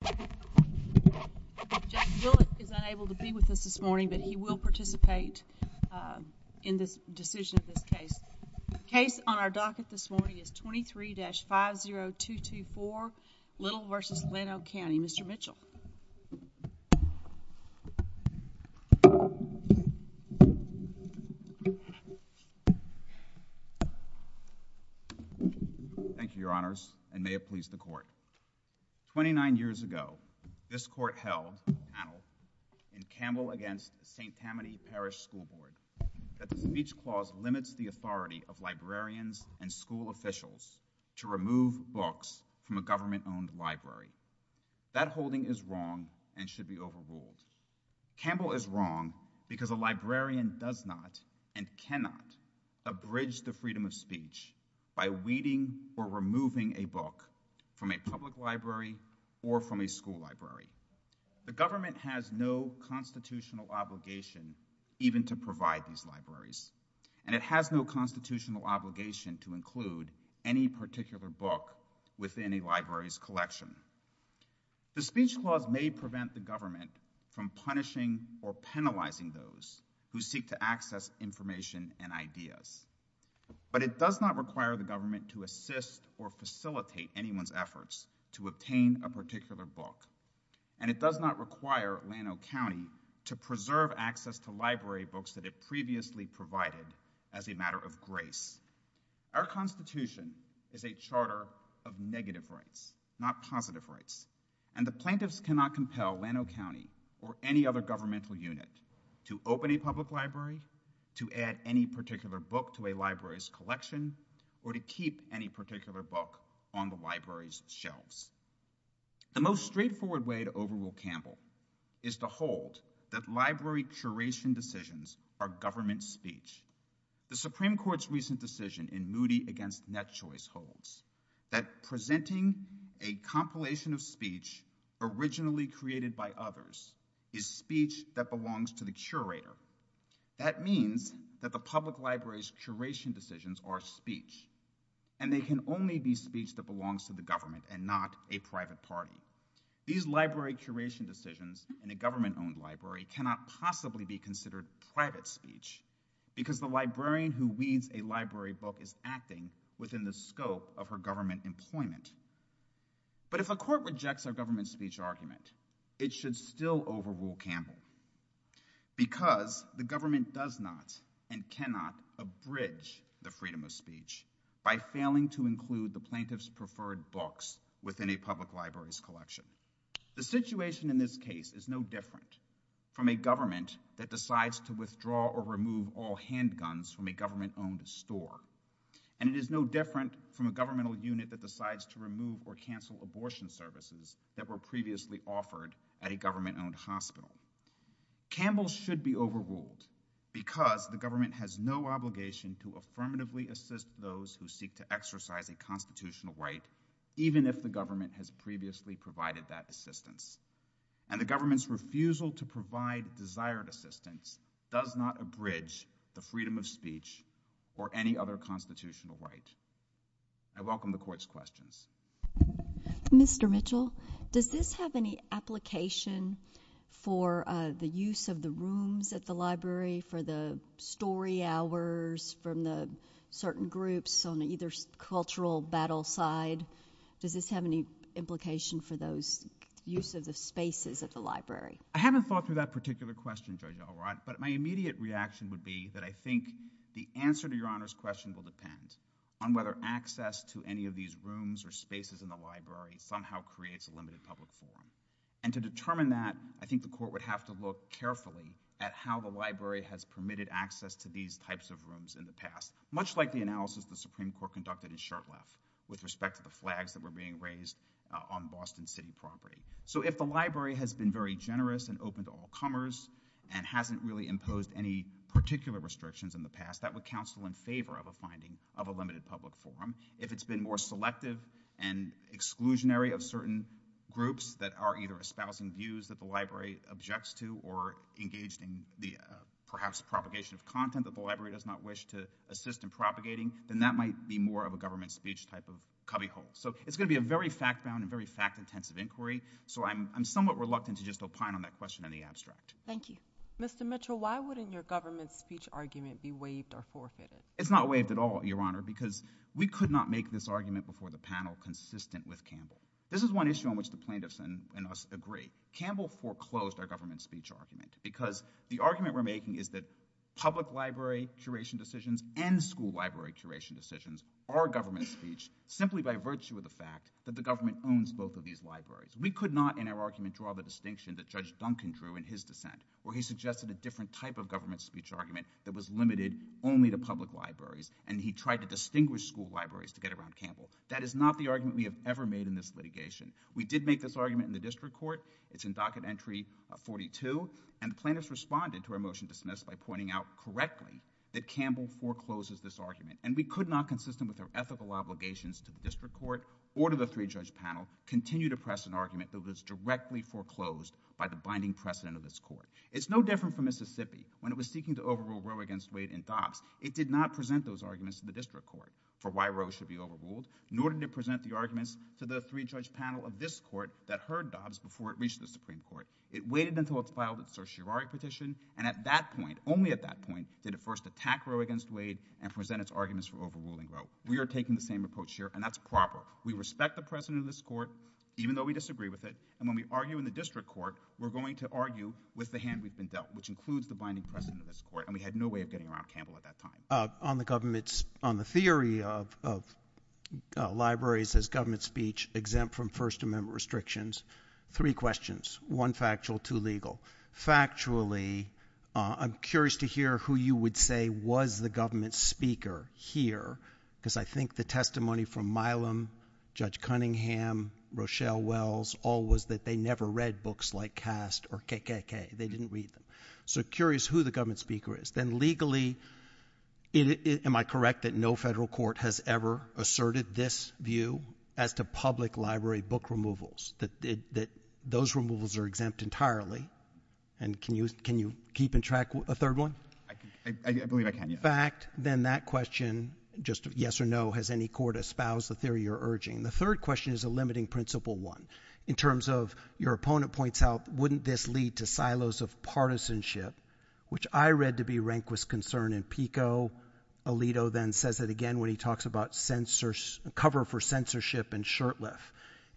The case on our docket this morning is 23-50224 Little v. Llano County, Mr. Mitchell. Thank you, Your Honors, and may it please the Court, 29 years ago, this Court held in Campbell v. St. Tammany Parish School Board that the speech clause limits the authority of librarians and school officials to remove books from a government-owned library. Holding is wrong and should be overruled. Campbell is wrong because a librarian does not and cannot abridge the freedom of speech by weeding or removing a book from a public library or from a school library. The government has no constitutional obligation even to provide these libraries, and it has no constitutional obligation to include any particular book within a library's collection. The speech clause may prevent the government from punishing or penalizing those who seek to access information and ideas, but it does not require the government to assist or facilitate anyone's efforts to obtain a particular book, and it does not require Llano County to preserve access to library books that it previously provided as a matter of grace. Our Constitution is a charter of negative rights, not positive rights, and the plaintiffs cannot compel Llano County or any other governmental unit to open a public library, to add any particular book to a library's collection, or to keep any particular book on the library's shelves. The most straightforward way to overrule Campbell is to hold that library curation decisions are government speech. The Supreme Court's recent decision in Moody v. Net Choice holds that presenting a compilation of speech originally created by others is speech that belongs to the curator. That means that the public library's curation decisions are speech, and they can only be speech that belongs to the government and not a private party. These library curation decisions in a government-owned library cannot possibly be considered private speech because the librarian who reads a library book is acting within the scope of her government employment, but if a court rejects our government speech argument, it should still overrule Campbell because the government does not and cannot abridge the freedom of speech by failing to include the preferred books within a public library's collection. The situation in this case is no different from a government that decides to withdraw or remove all handguns from a government-owned store, and it is no different from a governmental unit that decides to remove or cancel abortion services that were previously offered at a government-owned hospital. Campbell should be overruled because the government has no obligation to affirmatively assist those who seek to exercise a constitutional right, even if the government has previously provided that assistance, and the government's refusal to provide desired assistance does not abridge the freedom of speech or any other constitutional right. I welcome the court's questions. Mr. Mitchell, does this have any application for the use of the rooms at the library for the story hours from the certain groups on either cultural battle side? Does this have any implication for those use of the spaces at the library? I haven't thought through that particular question, Judge O'Rourke, but my immediate reaction would be that I think the answer to Your Honor's question will depend on whether access to any of these rooms or spaces in the library somehow creates a limited public forum, and to determine that, I think the court would have to look carefully at how the library has permitted access to these types of rooms in the past, much like the analysis the Supreme Court conducted in Charlotte with respect to the flags that were being raised on Boston City property. So if the library has been very generous and open to all comers and hasn't really imposed any particular restrictions in the past, that would counsel in favor of a finding of a limited public forum. If it's been more selective and exclusionary of certain groups that are either espousing views that the library objects to or engaged in the perhaps propagation of content that the library does not wish to assist in propagating, then that might be more of a government speech type of cubbyhole. So it's going to be a very fact-bound and very fact-intensive inquiry, so I'm somewhat reluctant to just opine on that question in the abstract. Thank you. Mr. Mitchell, why wouldn't your government speech argument be waived or forfeited? It's not waived at all, Your Honor, because we could not make this argument before the panel consistent with Campbell. This is one issue on which the plaintiffs and us agree. Campbell foreclosed our government speech argument because the argument we're making is that public library curation decisions and school library curation decisions are government speech simply by virtue of the fact that the government owns both of these libraries. We could not, in our argument, draw the distinction that Judge Duncan drew in his dissent, where he suggested a different type of government speech argument that was limited only to public libraries, and he tried to distinguish school libraries to get around Campbell. That is not the argument we have ever made in this litigation. We did make this argument in the district court. It's in Docket Entry 42, and plaintiffs responded to our motion dismissed by pointing out correctly that Campbell forecloses this argument, and we could not, consistent with our ethical obligations to the district court or to the three-judge panel, continue to press an argument that was directly foreclosed by the binding precedent of this court. It's no different for Mississippi. When it was seeking to overrule Roe against Wade in Dobbs, it did not present those arguments in the district court for why Roe should be overruled in order to present the arguments to the three-judge panel of this court that heard Dobbs before it reached the Supreme Court. It waited until it filed its certiorari petition, and at that point, only at that point, did it first attack Roe against Wade and present its arguments for overruling Roe. We are taking the same approach here, and that's proper. We respect the precedent of this court, even though we disagree with it, and when we argue in the district court, we're going to argue with the hand we've been dealt, which includes the binding precedent of this court, and we had no way of getting around Campbell at that time. On the government's, on the theory of libraries as government speech, exempt from First Amendment restrictions, three questions. One factual, two legal. Factually, I'm curious to hear who you would say was the government speaker here, because I think the testimony from Milam, Judge Cunningham, Rochelle Wells, all was that they never read books like Caste or KKK. They didn't read them. So, curious who the government speaker is. Then legally, am I correct that no federal court has ever asserted this view as to public library book removals, that those removals are exempt entirely? And can you keep in track a third one? I believe I can. In fact, then that question, just yes or no, has any court espoused the theory you're urging? The third question is a limiting principle one. In terms of, your opponent points out, wouldn't this lead to silos of partisanship, which I read to be Rehnquist's concern in Pico. Alito then says it again when he talks about cover for censorship in Shurtleff.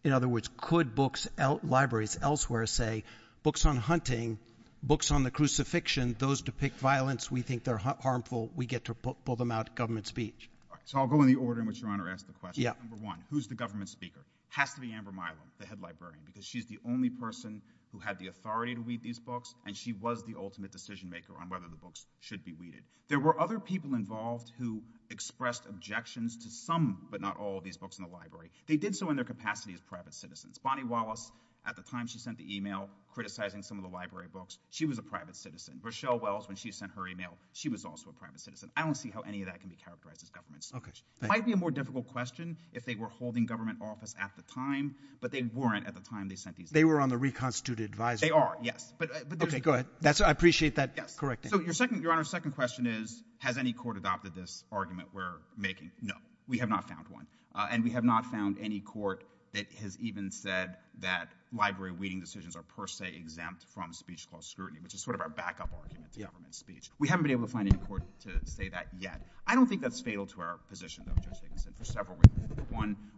In other words, could books, libraries elsewhere say, books on hunting, books on the crucifixion, those depict violence, we think they're harmful, we get to pull them out of government speech? So, I'll go in the order in which your Honor asked the question. Number one, who's the government speaker? Has to be Amber Milam, the head librarian, because she's the only person who had the authority to read these books, and she was the ultimate decision maker on whether the books should be read. There were other people involved who expressed objections to some, but not all, of these books in the library. They did so in their capacity as private citizens. Bonnie Wallace, at the time she sent the email criticizing some of the library books, she was a private citizen. Rochelle Wells, when she sent her email, she was also a private citizen. I don't see how any of that can be characterized as government censorship. It might be a more questionable question if they were holding government office at the time, but they weren't at the time they sent these emails. They were on the reconstituted advisory. They are, yes. Okay, go ahead. I appreciate that correcting. So, your Honor's second question is, has any court adopted this argument where maybe, no, we have not found one. And we have not found any court that has even said that library reading decisions are per se exempt from speech clause scrutiny, which is sort of our backup argument to government speech. We haven't been able to find any court to say that yet. I don't think that's fatal to our position.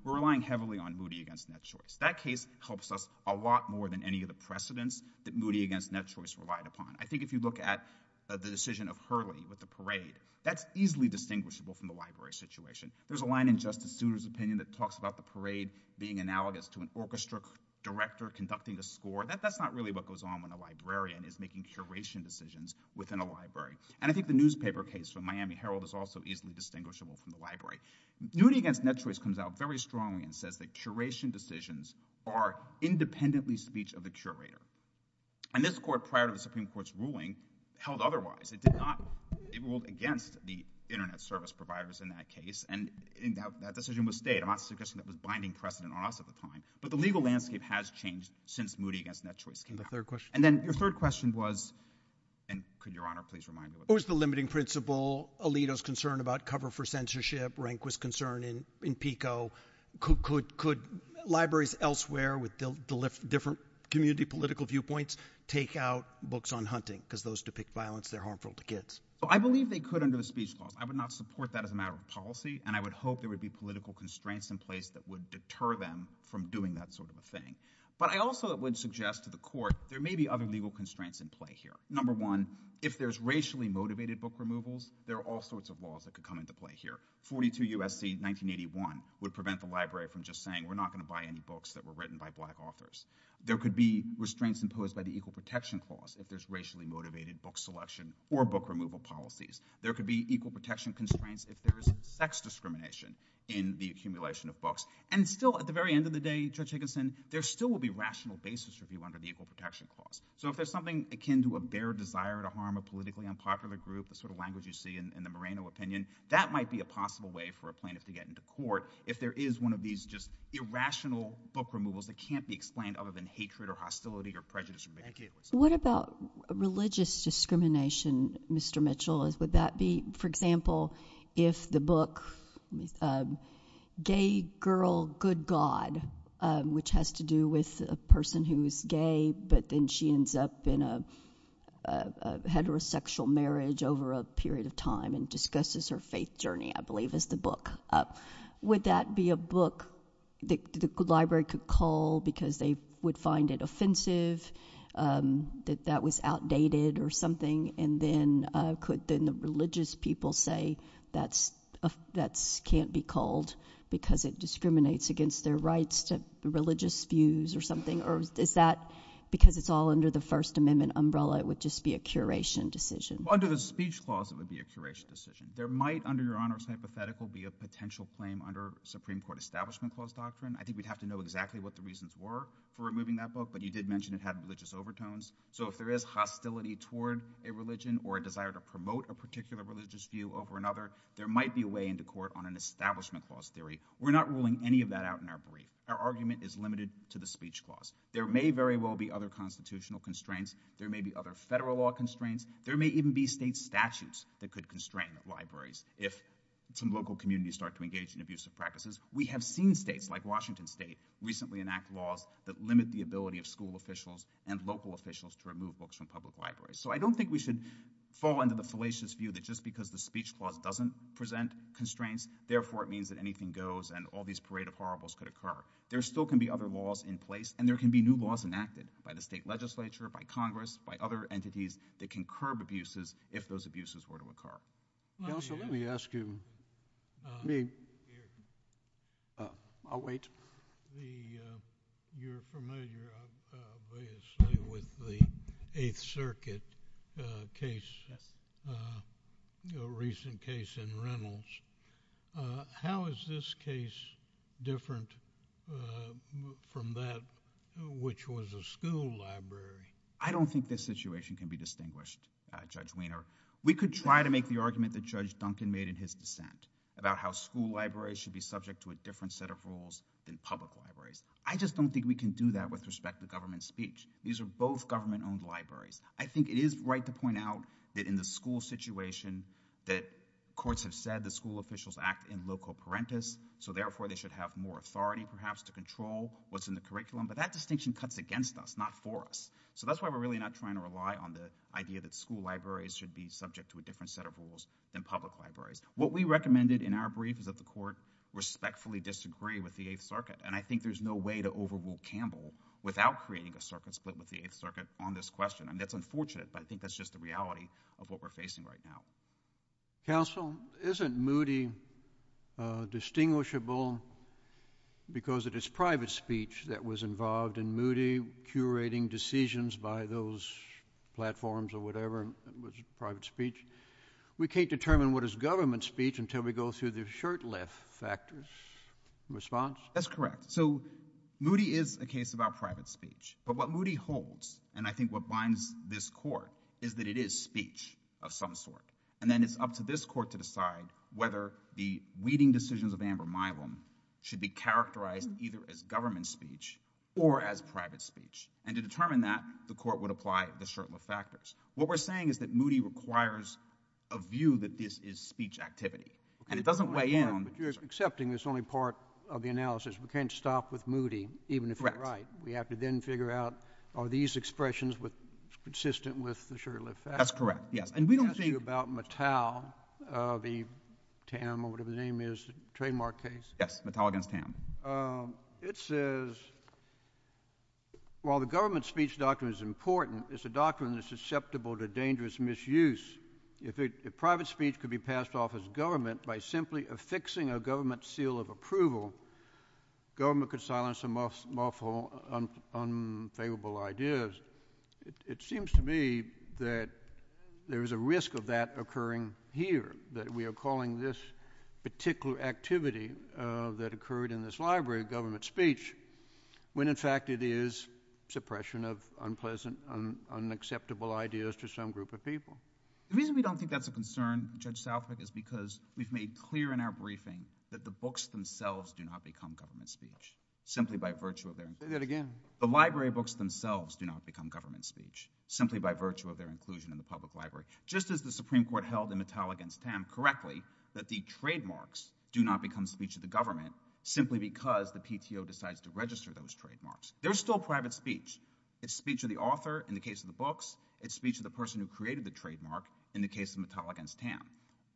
We're relying heavily on Moody against Net Choice. That case helps us a lot more than any of the precedents that Moody against Net Choice relied upon. I think if you look at the decision of Hurley with the parade, that's easily distinguishable from the library situation. There's a line in Justice Sousa's opinion that talks about the parade being analogous to an orchestra director conducting a score. That's not really what goes on when a librarian is making curation decisions within a library. And I think the newspaper case of Miami Herald is also easily distinguishable from the library. Moody against Net Choice comes out very strongly and says that curation decisions are independently speech of the curator. And this court, prior to the Supreme Court's ruling, held otherwise. It ruled against the internet service providers in that case. And that decision was stayed. I'm not suggesting that was binding precedent or not at the time. But the legal landscape has changed since Moody against Net Choice came out. And then your third question was, and could Your Honor please remind who's the limiting principle? Alito's concern about cover for censorship, Rehnquist's concern in PICO. Could libraries elsewhere with different community political viewpoints take out books on hunting? Because those depict violence that are harmful to kids. Well, I believe they could under the speech law. I would not support that as a matter of policy. And I would hope there would be political constraints in place that would deter them from doing that sort of a thing. But I also would suggest to the court, there may be other legal constraints in play here. Number one, if there's racially motivated book removals, there are all sorts of laws that could come into play here. 42 U.S.C. 1981 would prevent the library from just saying we're not going to buy any books that were written by black authors. There could be restraints imposed by the Equal Protection Clause if there's racially motivated book selection or book removal policies. There could be equal protection constraints if there's sex discrimination in the accumulation of books. And still, at the very end of the day, Judge Higginson, there still will be rational basis for people under the Equal Protection Clause. So if there's something akin to a bare desire to harm a politically unpopular group, the sort of language you see in the Moreno opinion, that might be a possible way for a plaintiff to get into court if there is one of these just irrational book removals that can't be explained other than hatred or hostility or prejudice. What about religious discrimination, Mr. Mitchell? Would that be, for example, if the book, Gay Girl, Good God, which has to do with a person who's gay, but then she ends up in a heterosexual marriage over a period of time and discusses her faith journey, I believe, is the book. Would that be a book the library could call because they would find it offensive, that that was outdated or something, and then could the religious people say that can't be called because it discriminates against their rights to religious views or something? Or is that because it's all under the First Amendment umbrella, it would just be a curation decision? Well, under the speech clause, it would be a curation decision. There might, under Your Honor's hypothetical, be a potential frame under Supreme Court Establishment Clause doctrine. I think we'd have to know exactly what the reasons were for removing that book, but he did mention it had religious overtones. So if there is hostility toward a religion or a desire to promote a particular religious view over another, there might be a way into court on an Establishment Clause theory. We're not ruling any of that out in our brief. Our argument is limited to the speech clause. There may very well be other constitutional constraints. There may be other federal law constraints. There may even be state statutes that could constrain libraries if some local communities start to engage in abusive practices. We have seen states, like Washington State, recently enact laws that limit the ability of school officials and local officials to remove books from public libraries. So I don't think we should fall into the fallacious view that just because the speech clause doesn't present constraints, therefore it means that anything goes and all these parade of horribles could occur. There still can be other laws in place, and there can be new laws enacted by the state legislature, by Congress, by other entities that can curb abuses if those abuses were to occur. I don't think this situation can be distinguished, Judge Weiner. We could try to make the argument that Judge Duncan made in his dissent about how school libraries should be subject to a different set of rules than public libraries. I just don't think we can do that with respect to government speech. These are both government-owned libraries. I think it is right to point out that in the school situation that courts have said that school officials act in loco parentis, so therefore they should have more authority, perhaps, to control what's in the curriculum. But that distinction cuts against us, not for us. So that's why we're really not trying to rely on the idea that school libraries should be subject to a different set of rules than public libraries. What we recommended in our brief is that the court respectfully disagree with the Eighth Circuit, and I think there's no way to overrule Campbell without creating a circuit split with the Eighth Circuit on this question, and that's unfortunate, but I think that's just the reality of what we're facing right now. Counsel, isn't Moody distinguishable because of his private speech that was involved in Moody curating decisions by those platforms or whatever, private speech? We can't determine what is government speech until we go through the shirtless factors. Response? That's correct. So Moody is a case about private speech, but what Moody holds, and I think what binds this court, is that it is speech of some sort, and then it's up to this court to decide whether the leading decisions of Amber Myvlin should be characterized either as government speech or as private speech. And to determine that, the court would apply the shirtless factors. What we're saying is that Moody requires a view that is speech activity, and it doesn't weigh in on the jurors. Accepting this only part of the analysis, we can't stop with Moody, even if you're right. We have to then figure out, are these expressions consistent with the That's correct, yes. And we don't think about Mattel, the TAM, or whatever the name is, trademark case. Yes, Mattel against TAM. It says, while the government speech doctrine is important, it's a doctrine that's susceptible to dangerous misuse. If private speech could be passed off as government by simply affixing a government seal of approval, government could silence them off on unfavorable ideas. It seems to me that there is a risk of that occurring here, that we are calling this particular activity that occurred in this library government speech, when in fact it is suppression of unpleasant, unacceptable ideas to some group of people. The reason we don't think that's a concern, Judge Southwick, is because we've made clear in our The library books themselves do not become government speech, simply by virtue of their inclusion in the public library. Just as the Supreme Court held in Mattel against TAM correctly that the trademarks do not become speech of the government, simply because the PTO decides to register those trademarks. They're still private speech. It's speech of the author in the case of the books. It's speech of the person who created the trademark in the case of Mattel against TAM.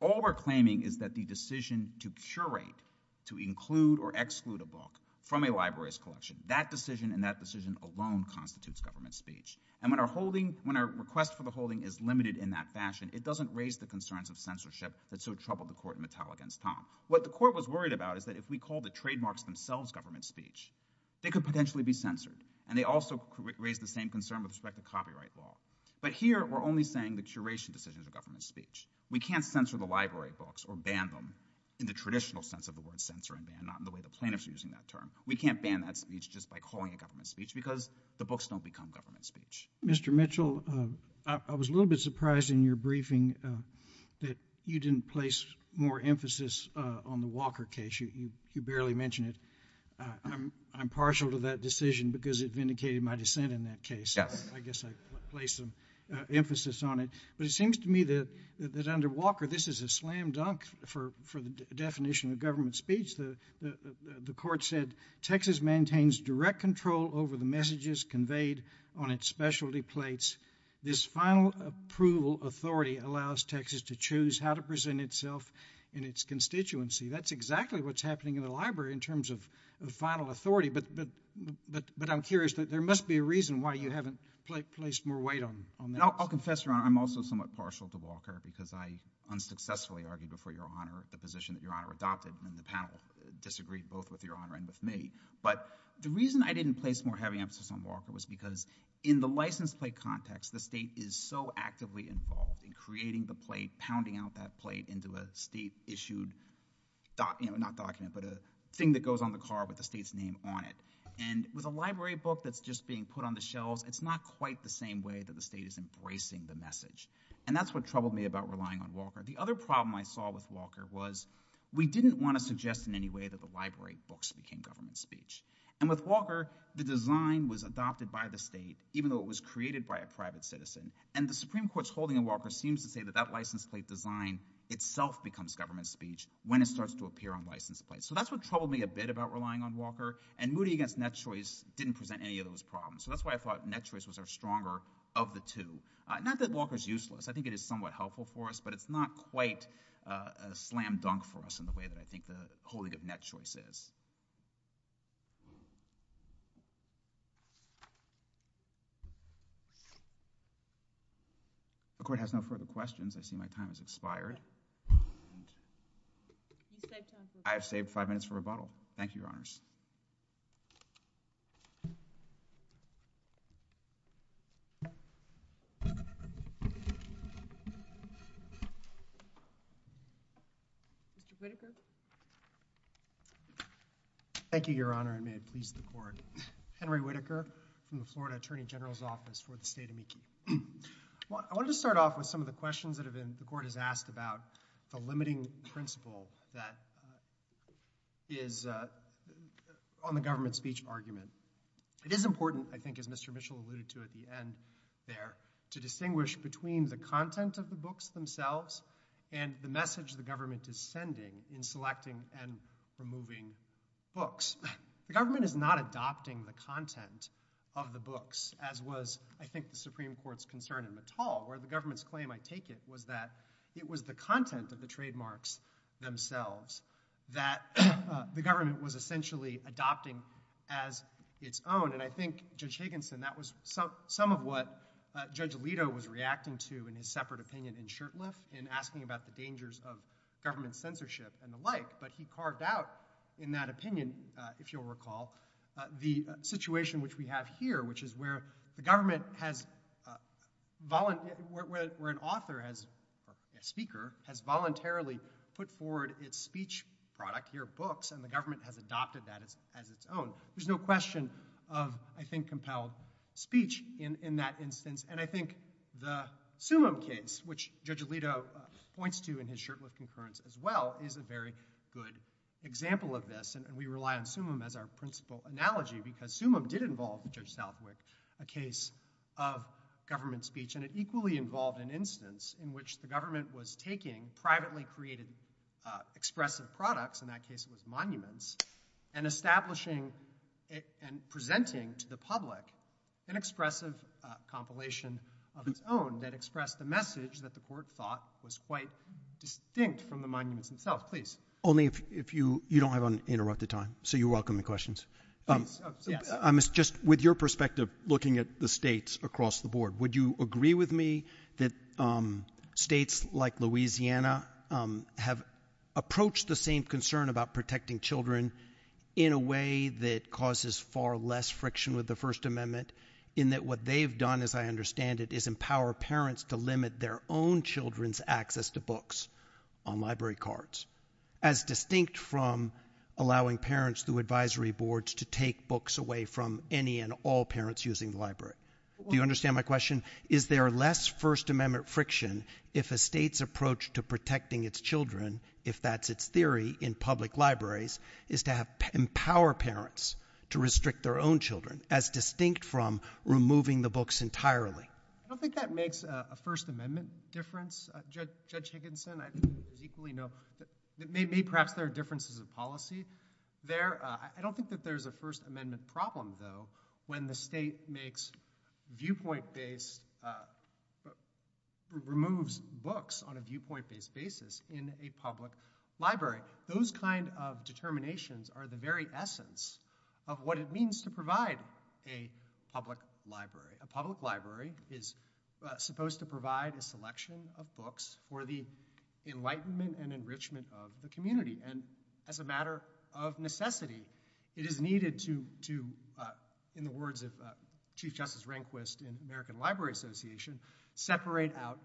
All we're claiming is that the decision to curate, to include or exclude a book from a library's collection. That decision and that decision alone constitutes government speech. And when our request for the holding is limited in that fashion, it doesn't raise the concerns of censorship that so troubled the court in Mattel against TAM. What the court was worried about is that if we call the trademarks themselves government speech, they could potentially be censored. And they also raise the same concern with respect to copyright law. But here, we're only saying the curation decision is government speech. We can't censor the library books or ban them in the traditional sense of the word censor and ban, not in the way the plaintiffs are using that term. We can't ban that speech just by calling it government speech, because the books don't become government speech. Mr. Mitchell, I was a little bit surprised in your briefing that you didn't place more emphasis on the Walker case. You barely mentioned it. I'm partial to that decision because it vindicated my dissent in that case. I guess I placed some emphasis on it. But it seems to me that under Walker, this is a slam dunk for the definition of government speech. The court said, Texas maintains direct control over the messages conveyed on its specialty plates. This final approval authority allows Texas to choose how to present itself in its constituency. That's exactly what's happening in the library in terms of the final authority. But I'm curious, there must be a reason why you haven't placed more weight on that. I'll confess, Ron, I'm also somewhat partial to Walker because I unsuccessfully argued before your Honor the position that your Honor adopted when the panel disagreed both with your Honor and with me. But the reason I didn't place more heavy emphasis on Walker was because in the license plate context, the state is so actively involved in creating the plate, pounding out that plate into a state-issued document, not document, but a thing that goes on the car with the state's name on it. And with a library book that's just being put on the shelves, it's not quite the same way that the state is embracing the message. And that's what troubled me about relying on Walker. The other problem I saw with Walker was we didn't want to suggest in any way that the library books became government speech. And with Walker, the design was adopted by the state, even though it was created by a private citizen. And the Supreme Court's holding on Walker seems to say that that license plate design itself becomes government speech when it starts to appear on license plates. So that's what troubled me a bit about relying on Walker. And Moody against Net Choice didn't present any of those I think it is somewhat helpful for us, but it's not quite a slam dunk for us in the way that I think the quality of Net Choice is. The court has no further questions. I see my time has expired. I've saved five minutes for rebuttal. Thank you, Your Honors. Mr. Whitaker. Thank you, Your Honor, and may it please the court. Henry Whitaker, from the Florida Attorney General's Office for the State of Michigan. I want to start off with some of the questions that the court has asked about the limiting principle that is on the government speech argument. It is important, I think, as Mr. Whitaker said, to understand the content of the books themselves and the message the government is sending in selecting and removing books. The government is not adopting the content of the books as was, I think, the Supreme Court's concern in the tall, where the government's claim, I take it, was that it was the content of the trademarks themselves that the government was essentially adopting as its own. And I think, Judge Higginson, that was some of what Judge Alito was reacting to in his separate opinion in Shirtless, in asking about the dangers of government censorship and the like. But he carved out, in that opinion, if you'll recall, the situation which we have here, which is where the government has voluntarily, where an author has, or a speaker, has voluntarily put forward its speech product, your books, and the government has adopted that as its own. There's no question of, I think, compelled speech in that instance. And I think the Summum case, which Judge Alito points to in his Shirtless concurrence as well, is a very good example of this. And we rely on Summum as our principal analogy, because Summum did involve Judge Stalbwick, a case of government speech. And it equally involved an instance in which the government was taking privately created, expressed their products, in that case it was monuments, and establishing and presenting to the public an expressive compilation of its own that expressed the message that the court thought was quite distinct from the monument itself. Please. Only if you don't have uninterrupted time. So you're welcoming questions. Just with your perspective, looking at the states across the board, would you agree with me that states like Louisiana have approached the same concern about protecting children in a way that causes far less friction with the First Amendment, in that what they've done, as I understand it, is empower parents to limit their own children's access to books on library cards, as distinct from allowing parents through advisory boards to take books away from any and all parents using the library? Do you understand my question? Is there less First Amendment friction, if a state's approach to protecting its children, if that's its theory, in public libraries, is to empower parents to restrict their own children, as distinct from removing the books entirely? I don't think that makes a First Amendment difference. Judge Higginson, I think there's equally no, maybe perhaps there are differences in policy there. I don't think that there's a First Amendment problem, though, when the state makes viewpoint based, removes books on a viewpoint based basis in a public library. Those kind of determinations are the very essence of what it means to provide a public library. A public library is supposed to provide a selection of books for the enlightenment and enrichment of the community, and as a matter of necessity, it is needed to, in the words of Chief Justice Rehnquist in the American Library Association, separate out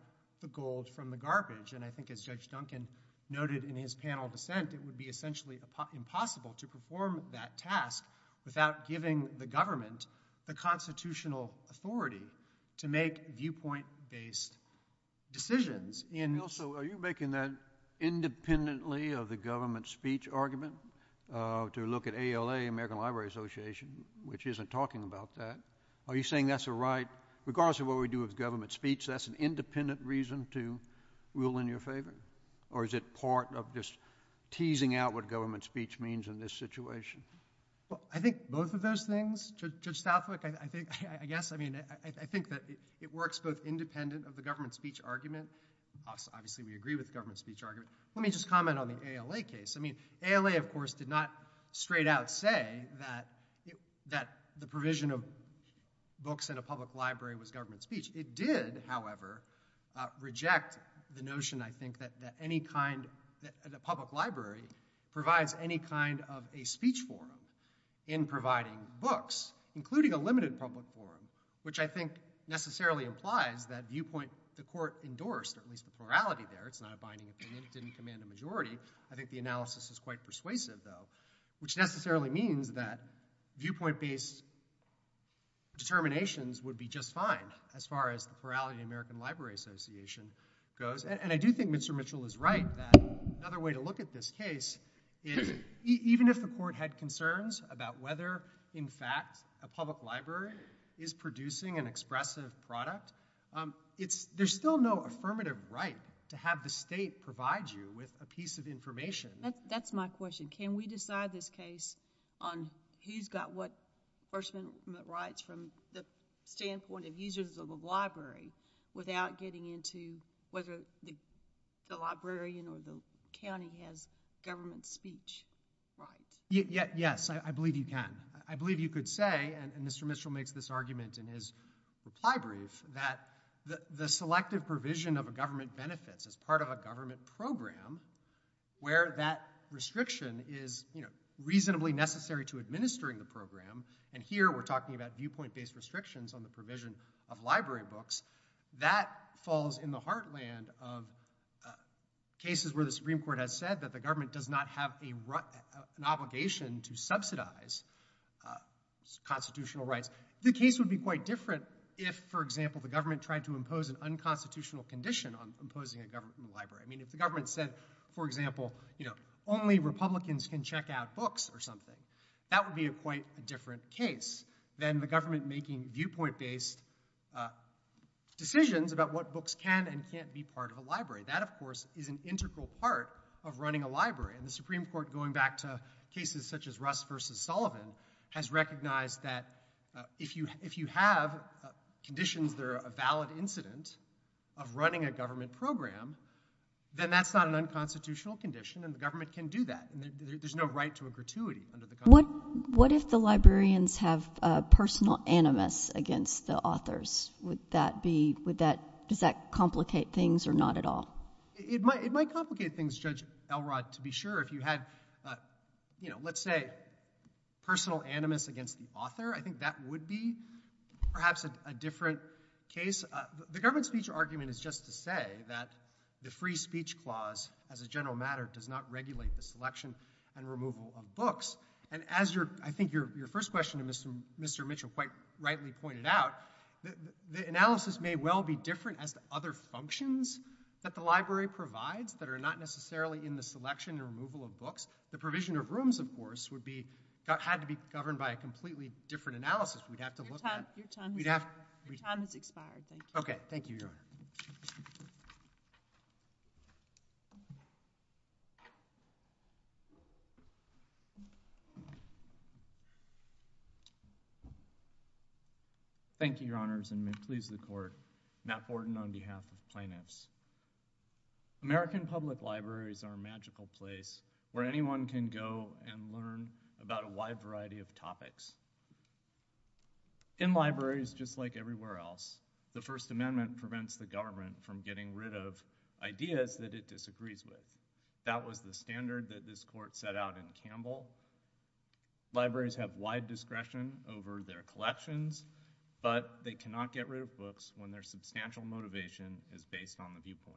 the gold from the garbage. And I think as Judge Duncan noted in his panel dissent, it would be essentially impossible to perform that task without giving the government the constitutional authority to make viewpoint based decisions. And also, are you making that independently of the government speech argument, to look at ALA, American Library Association, which isn't talking about that? Are you saying that's a right, regardless of what we do with government speech, that's an independent reason to rule in your favor? Or is it part of this teasing out what government speech means in this situation? I think both of those things. Judge Stauffer, I think, I guess, I mean, I think that it works independent of the government speech argument. Obviously, we agree with government speech argument. Let me just comment on the ALA case. I mean, ALA, of course, did not straight out say that the provision of books at a public library was government speech. It did, however, reject the notion, I think, that any kind, that the public library provides any kind of a speech form in providing books, including a limited public form, which I think necessarily implies that viewpoint the court endorsed, at least the plurality there. It's not a binding opinion. It didn't command a majority. I think the analysis is quite persuasive, though, which necessarily means that viewpoint based determinations would be just fine, as far as the plurality of the American Library Association goes. And I do think Mr. Mitchell is right that another way to look at this case is, even if the court had concerns about whether, in fact, a public library is producing an expressive product, it's, there's still no affirmative right to have the state provide you with a piece of information. That's my question. Can we decide this case on who's got what personal rights from the standpoint of users of the library without getting into whether the librarian or the county has government speech rights? Yes, I believe you can. I believe you could say, and Mr. Mitchell makes this argument in his reply brief, that the selective provision of a government benefit as part of a government program, where that restriction is, you know, reasonably necessary to administering the program, and here we're talking about viewpoint-based restrictions on the provision of library books, that falls in the heartland of cases where the Supreme Court had said that the government does not have an obligation to subsidize constitutional rights. The case would be quite different if, for example, the government tried to impose an unconstitutional condition on imposing a government in the library. I mean, if the government said, for example, you know, only Republicans can check out books or something, that would be quite a different case than the government making viewpoint-based decisions about what books can and can't be part of the library. That, of course, is an integral part of running a library, and the Supreme Court, going back to cases such as Russ v. Sullivan, has recognized that if you have conditions that are a valid incidence of running a government program, then that's not an unconstitutional condition, and the government can do that. There's no right to a gratuity under the Constitution. What if the librarians have personal animus against the authors? Would that be, would that, does that complicate things or not at all? It might complicate things, Judge Elrod, to be sure. If you had, you know, let's say, personal animus against the author, I think that would be perhaps a different case. The government speech argument is just to say that the free speech clause, as a general matter, does not regulate the selection and removal of books, and as your, I think your first question to Mr. Mitchell quite rightly pointed out, the analysis may well be different as the other functions that the library provides that are not necessarily in the selection and removal of books. The provision of rooms, of course, would be, had to be governed by a completely different analysis. We'd have to look at, we'd have, okay, thank you. Thank you, Your Honors, and may it please the Court, Matt Borden on behalf of Finance. American public libraries are a magical place where anyone can go and learn about a wide variety of topics. In libraries, just like everywhere else, the First Amendment prevents the government from getting rid of ideas that it disagrees with. That was the standard that this Court set out in Campbell. Libraries have wide discretion over their collections, but they cannot get rid of books when their substantial motivation is based on the viewpoint.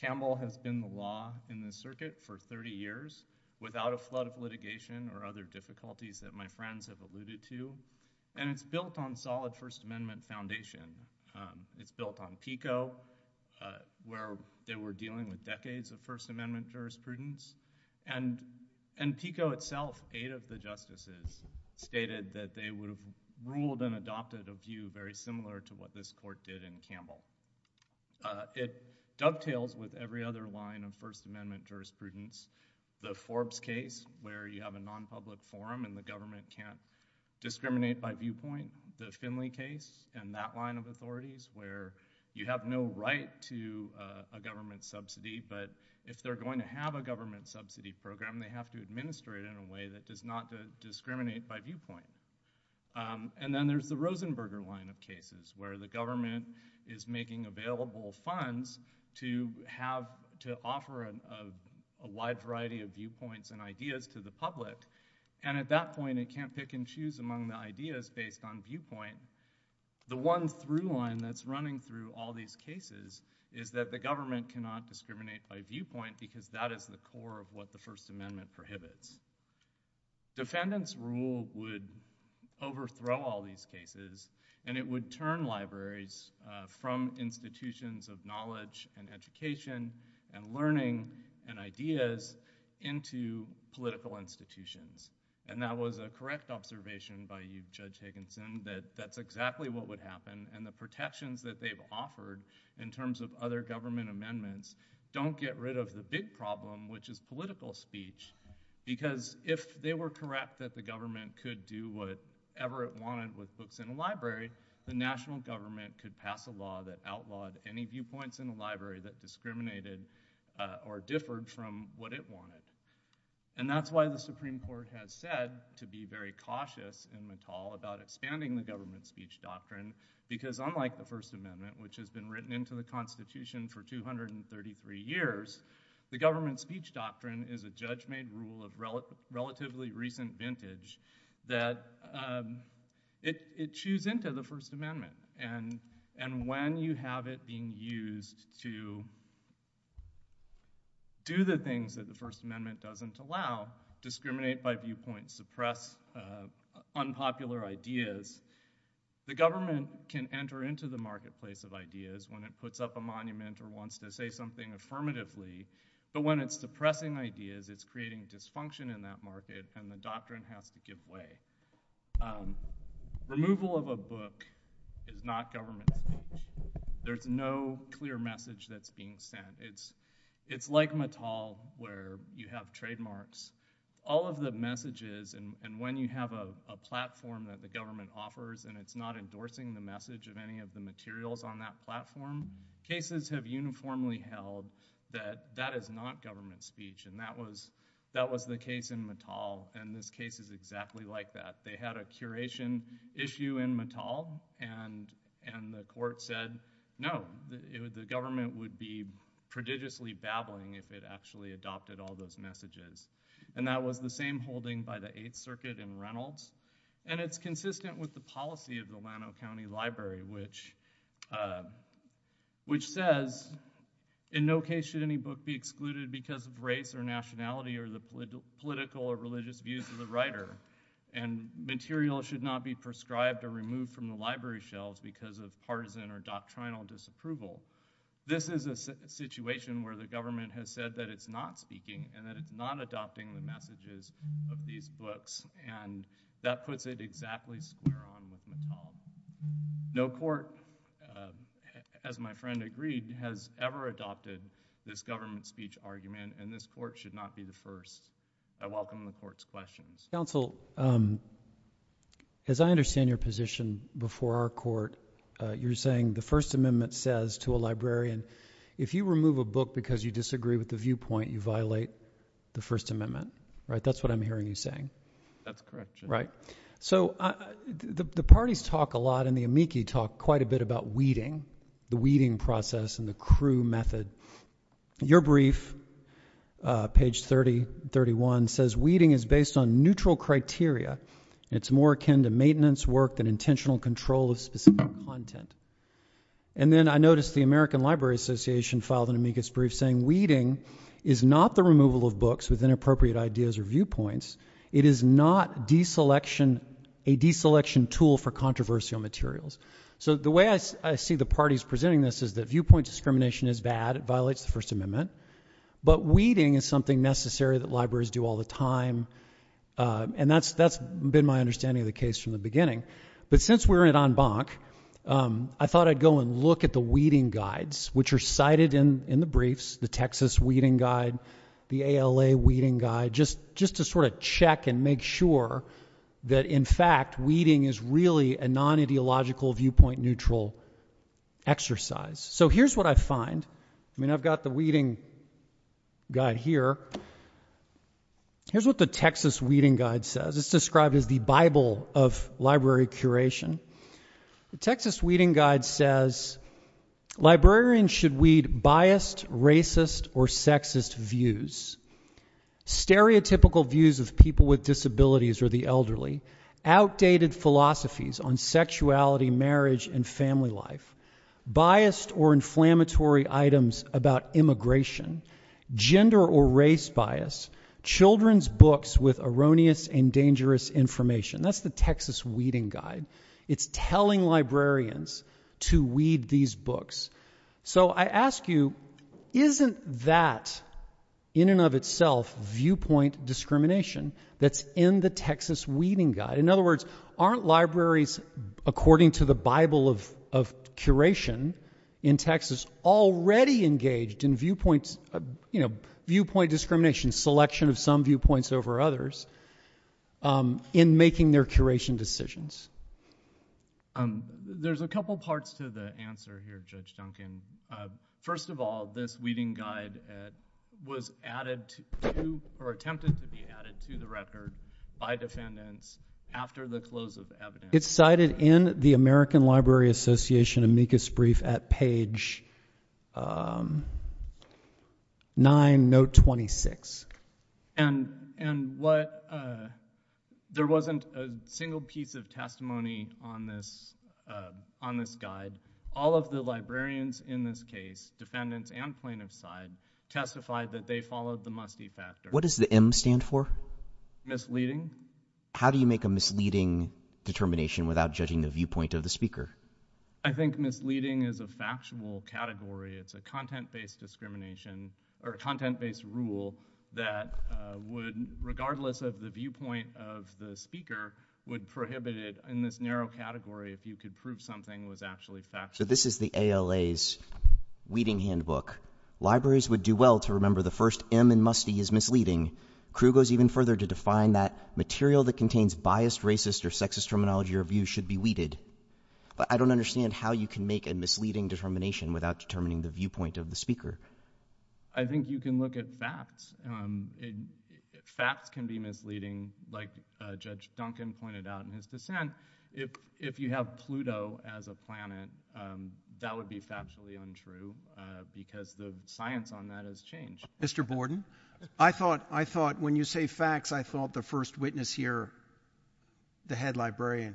Campbell has been the law in the circuit for 30 years without a flood of litigation or other difficulties that my friends have alluded to, and it's built on solid First Amendment foundation. It's built on PICO, where they were dealing with decades of First Amendment jurisprudence, and PICO itself, eight of the justices, stated that they would have ruled and adopted a view very similar to what this Court did in Campbell. It dovetails with every other line of First Amendment jurisprudence. The Forbes case, where you have a non-public forum and the government can't discriminate by viewpoint. The Finley case and that line of authorities, where you have no right to a government subsidy, but if they're going to have a government subsidy program, they have to administer it in a way that does not discriminate by viewpoint. And then there's the Rosenberger line of cases, where the government is making available funds to offer a wide variety of viewpoints and ideas to the public, and at that point, it can't pick and choose among the ideas based on viewpoint. The one through line that's running through all these cases is that the government cannot discriminate by viewpoint, because that is the core of what the First Amendment prohibits. Defendants' rule would overthrow all these cases, and it would turn libraries from institutions of knowledge and education and learning and ideas into political institutions. And that was a correct observation by Judge Higginson, that that's exactly what would happen, and the protections that they've offered in terms of other government amendments don't get rid of the big problem, which is political speech, because if they were correct that the government could do whatever it wanted with books in a library, the national government could pass a law that outlawed any viewpoints in a library that discriminated or differed from what it wanted. And that's why the Supreme Court has said to be very cautious in the call about expanding the government speech doctrine, because unlike the First Amendment, which has been written into the Constitution for 233 years, the government speech doctrine is a judge-made rule of relatively recent vintage that it chews into the First Amendment. And when you have it being used to do the things that the First Amendment doesn't allow, discriminate by viewpoint, suppress unpopular ideas, the government can enter into the marketplace of ideas when it puts up a monument or wants to say something affirmatively, but when it's suppressing ideas, it's creating dysfunction in that market, and the doctrine has to give way. Removal of a book is not government. There's no clear message that's being sent. It's like Mattel, where you have trademarks, all of the messages, and when you have a platform that the government offers and it's not endorsing the message of any of the that is not government speech. And that was the case in Mattel, and this case is exactly like that. They had a curation issue in Mattel, and the court said, no, the government would be prodigiously babbling if it actually adopted all those messages. And that was the same holding by the Eighth Circuit in Reynolds, and it's consistent with the policy of the Llano County Library, which says, in no case should any book be excluded because of race or nationality or the political or religious views of the writer, and material should not be prescribed or removed from the library shelves because of partisan or doctrinal disapproval. This is a situation where the government has said that it's not speaking and that it's not adopting the messages of these books, and that puts it exactly square on with Mattel. No court, as my friend agreed, has ever adopted this government speech argument, and this court should not be the first. I welcome the court's questions. Counsel, as I understand your position before our court, you're saying the First Amendment says to a librarian, if you remove a book because you are a librarian, that's what I'm hearing you saying. That's correct. Right? So the parties talk a lot, and the amici talk quite a bit about weeding, the weeding process and the crew method. Your brief, page 3031, says weeding is based on neutral criteria. It's more akin to maintenance work than intentional control of specific content. And then I noticed the American Library Association filed an amicus brief saying weeding is not the removal of books with inappropriate ideas or viewpoints. It is not a deselection tool for controversial materials. So the way I see the parties presenting this is that viewpoint discrimination is bad. It violates the First Amendment. But weeding is something necessary that libraries do all the time, and that's been my understanding of the case from the beginning. But since we're at en banc, I thought I'd go and look at the weeding guides, which are cited in the briefs, the Texas Weeding Guide, the ALA Weeding Guide, just to sort of check and make sure that, in fact, weeding is really a non-ideological viewpoint neutral exercise. So here's what I find. I mean, I've got the weeding guide here. Here's what the Texas Weeding Guide says. It's described as the Bible of library curation. The Texas Weeding Guide says librarians should weed biased, racist, or sexist views. Stereotypical views of people with disabilities or the elderly. Outdated philosophies on sexuality, marriage, and family life. Biased or inflammatory items about immigration. Gender or race bias. Children's books with erroneous and dangerous information. That's the Texas Weeding Guide. It's telling librarians to weed these books. So I ask you, isn't that, in and of itself, viewpoint discrimination that's in the Texas Weeding Guide? In other words, aren't libraries, according to the Bible of curation in Texas, already engaged in viewpoint discrimination, selection of some viewpoints over others, in making their curation decisions? There's a couple parts to the answer here, Judge Duncan. First of all, this Weeding Guide was added to or attempted to be added to the record by defendants after the close of evidence. It's cited in the American Library Association brief at page 9, note 26. And there wasn't a single piece of testimony on this guide. All of the librarians in this case, defendants and plaintiffs' side, testified that they followed the must-see factor. What does the M stand for? Misleading. How do you make a misleading determination without judging the viewpoint of the speaker? I think misleading is a factual category. It's a content-based discrimination or content-based rule that would, regardless of the viewpoint of the speaker, would prohibit it in this narrow category if you could prove something was actually factual. So this is the ALA's Weeding Handbook. Libraries would do well to remember the first M in must-see is misleading. Crew goes even further to define that material that contains biased, racist, or sexist terminology or view should be weeded. But I don't understand how you can make a misleading determination without determining the viewpoint of the speaker. I think you can look at facts. Facts can be misleading, like Judge Duncan pointed out in his dissent. If you have Pluto as a planet, that would be factually untrue because the science on that has changed. Mr. Borden, I thought when you say facts, I thought the first witness here, the head librarian,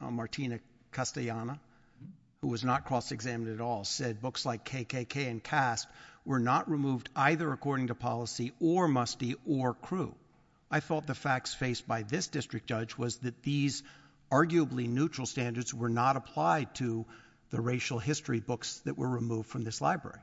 Martina Castellana, who was not cross-examined at all, said books like KKK and Caste were not removed either according to policy or must-see or crew. I thought the facts faced by this district judge was that these arguably neutral standards were not applied to the racial history books that were removed from this library.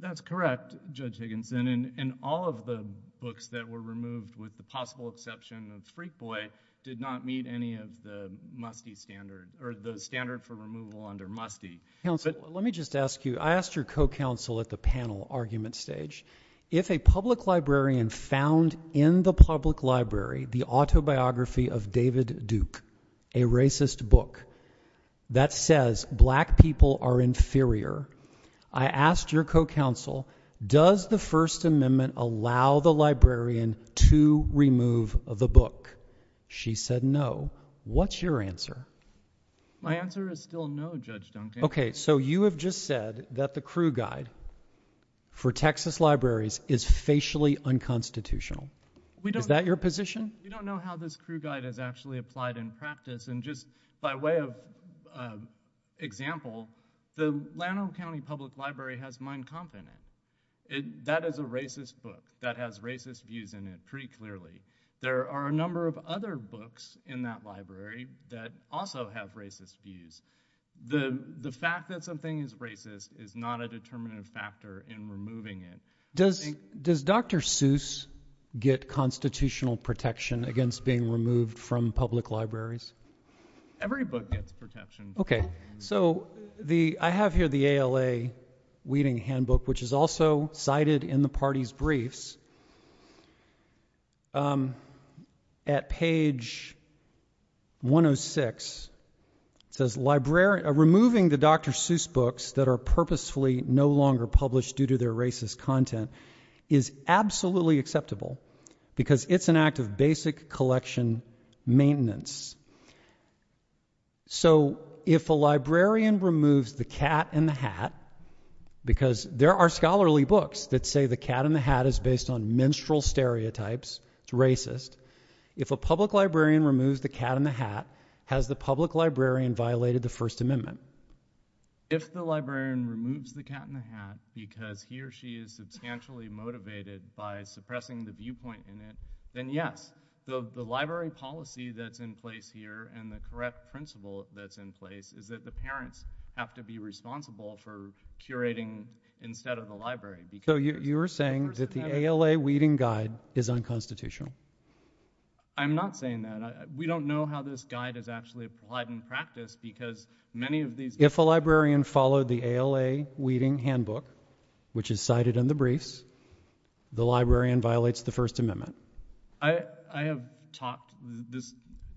That's correct, Judge Higginson, and all of the books that were removed, with the possible exception of Freak Boy, did not meet any of the must-see standard or the standard for removal under must-see. Counselor, let me just ask you, I asked your co-counsel at the panel argument stage, if a public librarian found in the public library the autobiography of David Duke, a racist book, that says black people are inferior, I asked your co-counsel, does the First Amendment allow the librarian to remove the book? She said no. What's your answer? My answer is still no, Judge Duncan. Okay, so you have just said that the crew guide for Texas libraries is facially unconstitutional. Is that your position? We don't know how this crew guide is actually applied in practice, and just by way of example, the Lanham County Public Library has mine confident. That is a racist book that has racist views in it, pretty clearly. There are a number of other books in that library that also have racist views. The fact that something is racist is not a determinant factor in removing it. Does Dr. Seuss get constitutional protection against being removed from public libraries? Every book gets protection. Okay, so I have here the ALA Weeding Handbook, which is also cited in the party's briefs. At page 106, it says, removing the Dr. Seuss books that are purposefully no longer published due to their racist content is absolutely acceptable because it's an act of basic collection maintenance. So if a librarian removes the cat in the hat, because there are scholarly books that say the cat in the hat is based on menstrual stereotypes, it's racist, if a public librarian removes the cat in the hat, has the public librarian violated the First Amendment? If the librarian removes the cat in the hat because he or she is substantially motivated by suppressing the viewpoint in it, then yes. So the library policy that's in place here and the correct principle that's in place is that the parents have to be responsible for curating instead of the library. So you're saying that the ALA Weeding Guide is unconstitutional? I'm not saying that. We don't know how this guide is actually applied in practice because many of these— If a librarian followed the ALA Weeding Handbook, which is cited in the briefs, the librarian violates the First Amendment? I have talked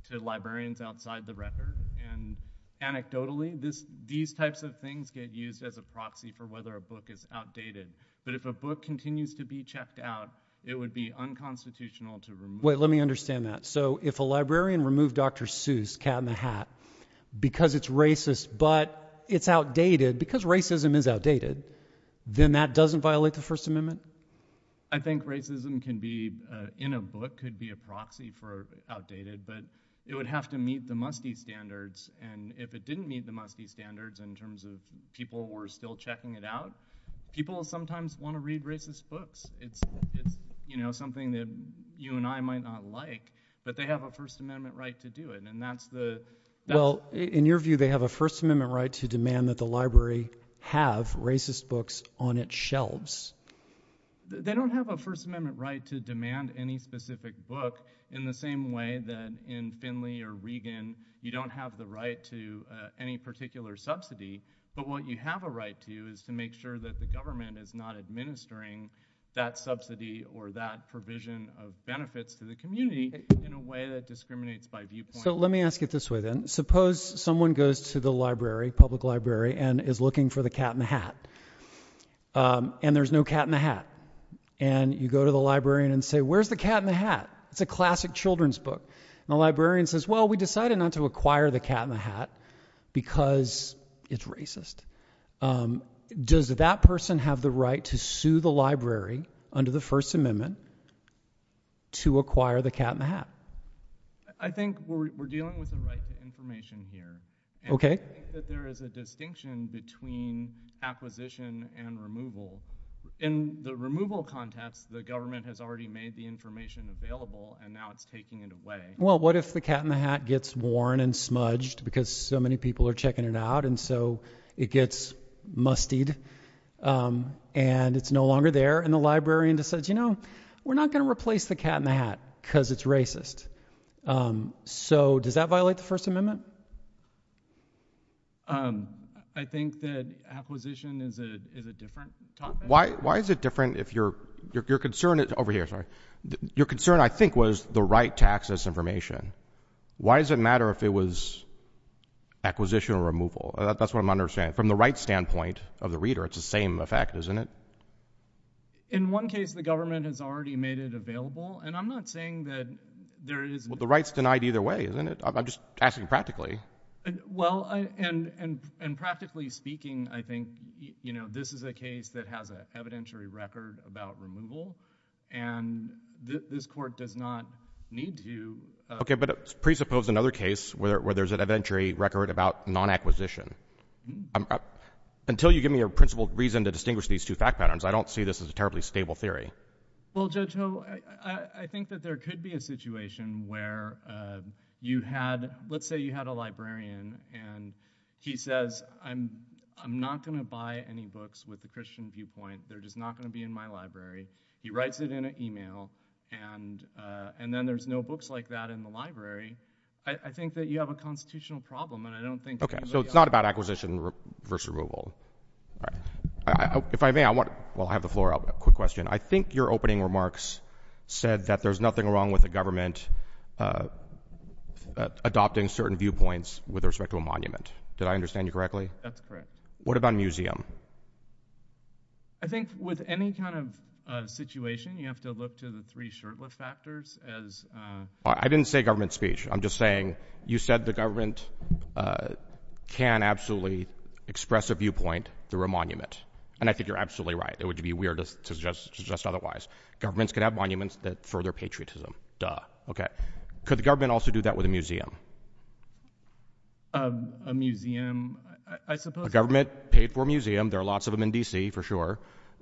to librarians outside the record, and anecdotally, these types of things get used as a proxy for whether a book is outdated. But if a book continues to be checked out, it would be unconstitutional to remove— Wait, let me understand that. So if a librarian removed Dr. Seuss' cat in the hat because it's racist but it's outdated, because racism is outdated, then that doesn't violate the First Amendment? I think racism can be in a book, could be a proxy for outdated, but it would have to meet the must-be standards. And if it didn't meet the must-be standards in terms of people were still checking it out, people sometimes want to read racist books. It's something that you and I might not like, but they have a First Amendment right to do it, and that's the— Well, in your view, they have a First Amendment right to demand that the library have racist books on its shelves. They don't have a First Amendment right to demand any specific book in the same way that in Finley or Regan, you don't have the right to any particular subsidy. But what you have a right to is to make sure that the government is not administering that subsidy or that provision of benefits to the community in a way that discriminates by viewpoint. So let me ask it this way, then. Suppose someone goes to the library, public library, and is looking for the cat in the hat, and you go to the librarian and say, where's the cat in the hat? It's a classic children's book. The librarian says, well, we decided not to acquire the cat in the hat because it's Does that person have the right to sue the library under the First Amendment to acquire the cat in the hat? I think we're dealing with the right to information here. Okay. There is a distinction between acquisition and removal. In the removal context, the government has already made the information available, and now it's taking it away. Well, what if the cat in the hat gets worn and smudged because so many people are checking it out, and so it gets mustied, and it's no longer there? And the librarian decides, you know, we're not going to replace the cat in the hat because it's racist. So does that violate the First Amendment? Um, I think that acquisition is a different topic. Why is it different if your concern is, over here, sorry. Your concern, I think, was the right to access information. Why does it matter if it was acquisition or removal? That's what I'm understanding. From the right standpoint of the reader, it's the same effect, isn't it? In one case, the government has already made it available, and I'm not saying that there is Well, the right's denied either way, isn't it? I'm just asking practically. Well, and practically speaking, I think, you know, this is a case that has an evidentiary record about removal, and this court does not need to. Okay, but presuppose another case where there's an evidentiary record about non-acquisition. Until you give me a principled reason to distinguish these two fact patterns, I don't see this as a terribly stable theory. Well, Judge Noble, I think that there could be a situation where you had, let's say you had a librarian, and he says, I'm not going to buy any books with a Christian viewpoint. They're just not going to be in my library. He writes it in an email, and then there's no books like that in the library. I think that you have a constitutional problem, and I don't think Okay, so it's not about acquisition versus removal. If I may, I'll have the floor up, quick question. I think your opening remarks said that there's nothing wrong with the government adopting certain viewpoints with respect to a monument. Did I understand you correctly? That's correct. What about a museum? I think with any kind of situation, you have to look to the three shirtless factors as I didn't say government speech. I'm just saying you said the government can absolutely express a viewpoint through a monument, and I think you're absolutely right. It would be weird to suggest otherwise. Governments could have monuments that further patriotism. Could the government also do that with a museum? A museum? The government paid for a museum. There are lots of them in D.C., for sure,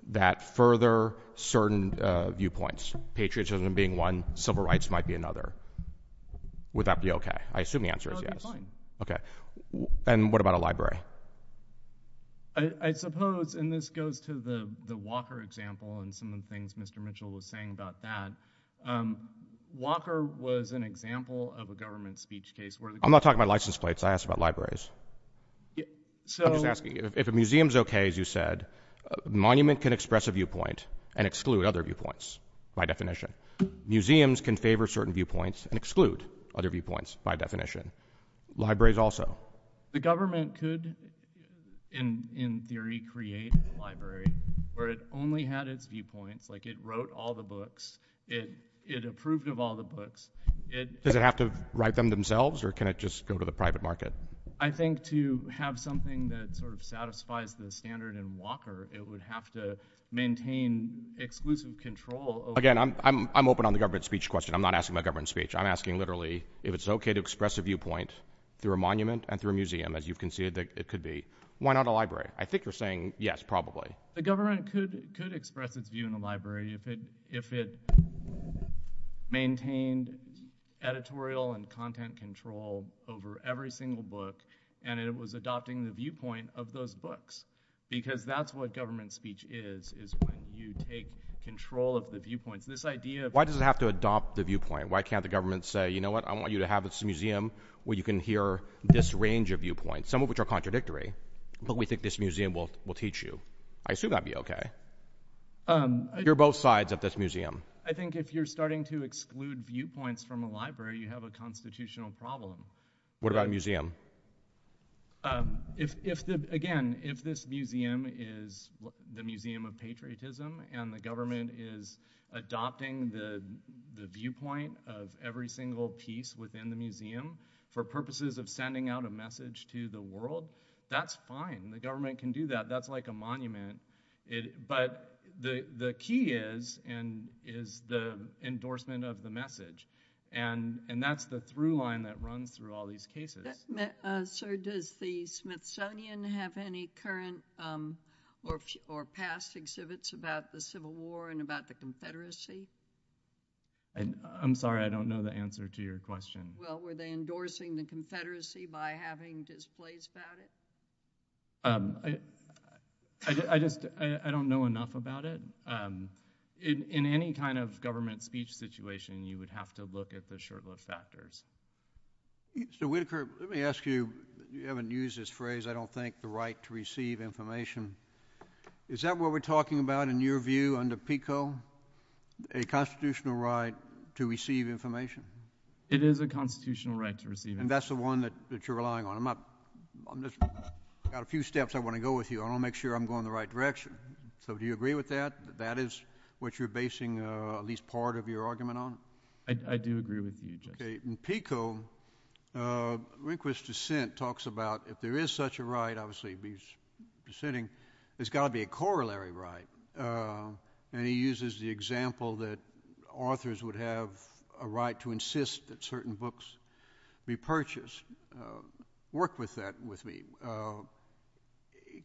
that further certain viewpoints. Patriotism being one, civil rights might be another. Would that be okay? I assume the answer is yes. And what about a library? I suppose, and this goes to the Walker example and some of the things Mr. Mitchell was saying about that, Walker was an example of a government speech case. I'm not talking about license plates. I asked about libraries. If a museum's okay, as you said, a monument can express a viewpoint and exclude other viewpoints by definition. Museums can favor certain viewpoints and exclude other viewpoints by definition. Libraries also. The government could, in theory, create a library where it only had its viewpoint, like it wrote all the books, it approved of all the books. Does it have to write them themselves or can it just go to the private market? I think to have something that sort of satisfies the standard in Walker, it would have to maintain exclusive control. Again, I'm open on the government speech question. I'm not asking about government speech. I'm asking, literally, if it's okay to express a viewpoint through a monument and through a museum, as you conceded it could be, why not a library? I think you're saying yes, probably. The government could express its view in a library if it maintained editorial and content control over every single book and it was adopting the viewpoint of those books because that's what government speech is, is when you take control of the viewpoint. This idea of- Why does it have to adopt the viewpoint? Why can't the government say, you know what, I want you to have this museum where you can hear this range of viewpoints, some of which are contradictory, but we think this museum will teach you. I assume that'd be okay if you're both sides of this museum. I think if you're starting to exclude viewpoints from a library, you have a constitutional problem. What about a museum? Again, if this museum is the Museum of Patriotism and the government is adopting the viewpoint of every single piece within the museum for purposes of sending out a message to the world, that's fine. The government can do that. That's like a monument. But the key is the endorsement of the message and that's the through line that runs through all these cases. Sir, does the Smithsonian have any current or past exhibits about the Civil War and about the Confederacy? I'm sorry, I don't know the answer to your question. Well, were they endorsing the Confederacy by having displays about it? I just, I don't know enough about it. In any kind of government speech situation, you would have to look at the shortlist factors. So Whitaker, let me ask you, you haven't used this phrase, I don't think, the right to receive information. Is that what we're talking about in your view under PICO, a constitutional right to receive information? It is a constitutional right to receive information. And that's the one that you're relying on. I've got a few steps I want to go with you. I want to make sure I'm going in the right direction. So do you agree with that? That is what you're basing at least part of your argument on? I do agree with you, Judge. Okay. In PICO, Rehnquist's dissent talks about if there is such a right, obviously he's dissenting, there's got to be a corollary right. And he uses the example that authors would have a right to insist that certain books be purchased. Work with that with me.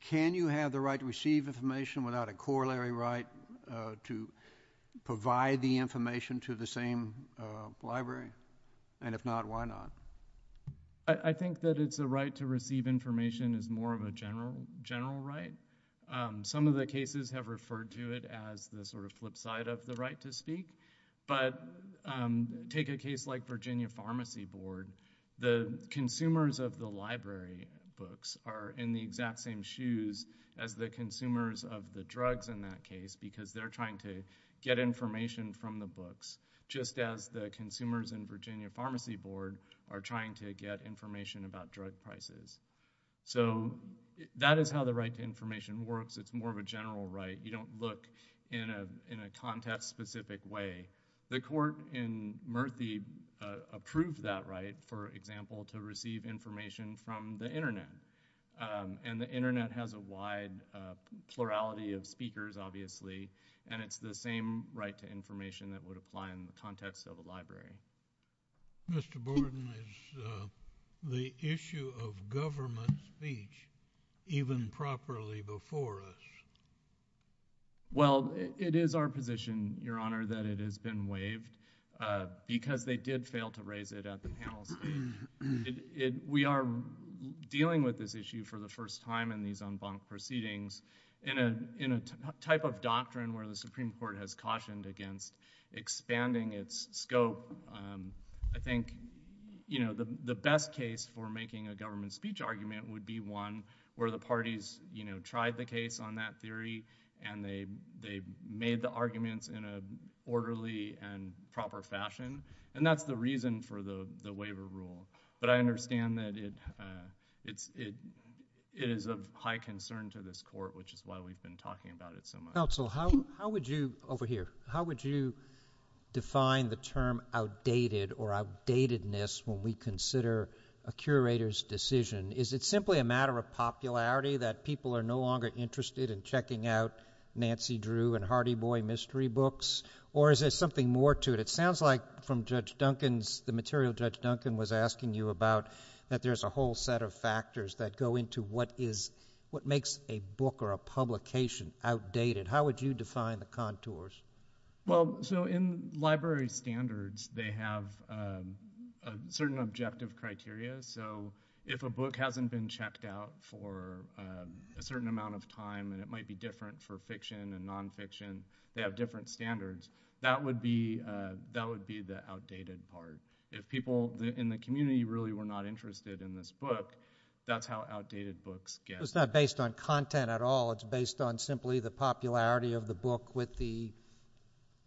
Can you have the right to receive information without a corollary right to provide the information to the same library? And if not, why not? I think that it's the right to receive information is more of a general right. Some of the cases have referred to it as the sort of flip side of the right to speak. But take a case like Virginia Pharmacy Board. The consumers of the library books are in the exact same shoes as the consumers of the drugs in that case because they're trying to get information from the books just as the consumers in Virginia Pharmacy Board are trying to get information about drug prices. So that is how the right to information works. It's more of a general right. You don't look in a context-specific way. The court in Murphy approved that right, for example, to receive information from the internet. And the internet has a wide plurality of speakers, obviously, and it's the same right to information that would apply in the context of a library. Mr. Borden, is the issue of government speech even properly before us? Well, it is our position, Your Honor, that it has been waived because they did fail to raise it at the panel. We are dealing with this issue for the first time in these en banc proceedings in a type of doctrine where the Supreme Court has cautioned against expanding its scope. I think the best case for making a government speech argument would be one where the parties tried the case on that theory and they made the arguments in an orderly and proper fashion. And that's the reason for the waiver rule. But I understand that it is of high concern to this court, which is why we've been talking about it so much. How would you define the term outdated or outdatedness when we consider a curator's decision? Is it simply a matter of popularity that people are no longer interested in checking out Nancy Drew and Hardy Boy mystery books? Or is there something more to it? It sounds like from the material Judge Duncan was asking you about, that there's a whole set of factors that go into what makes a book or a publication outdated. How would you define the contours? Well, so in library standards, they have certain objective criteria. So if a book hasn't been checked out for a certain amount of time and it might be different for fiction and nonfiction, they have different standards. That would be the outdated part. If people in the community really were not interested in this book, that's how outdated books get. It's not based on content at all. It's based on simply the popularity of the book with the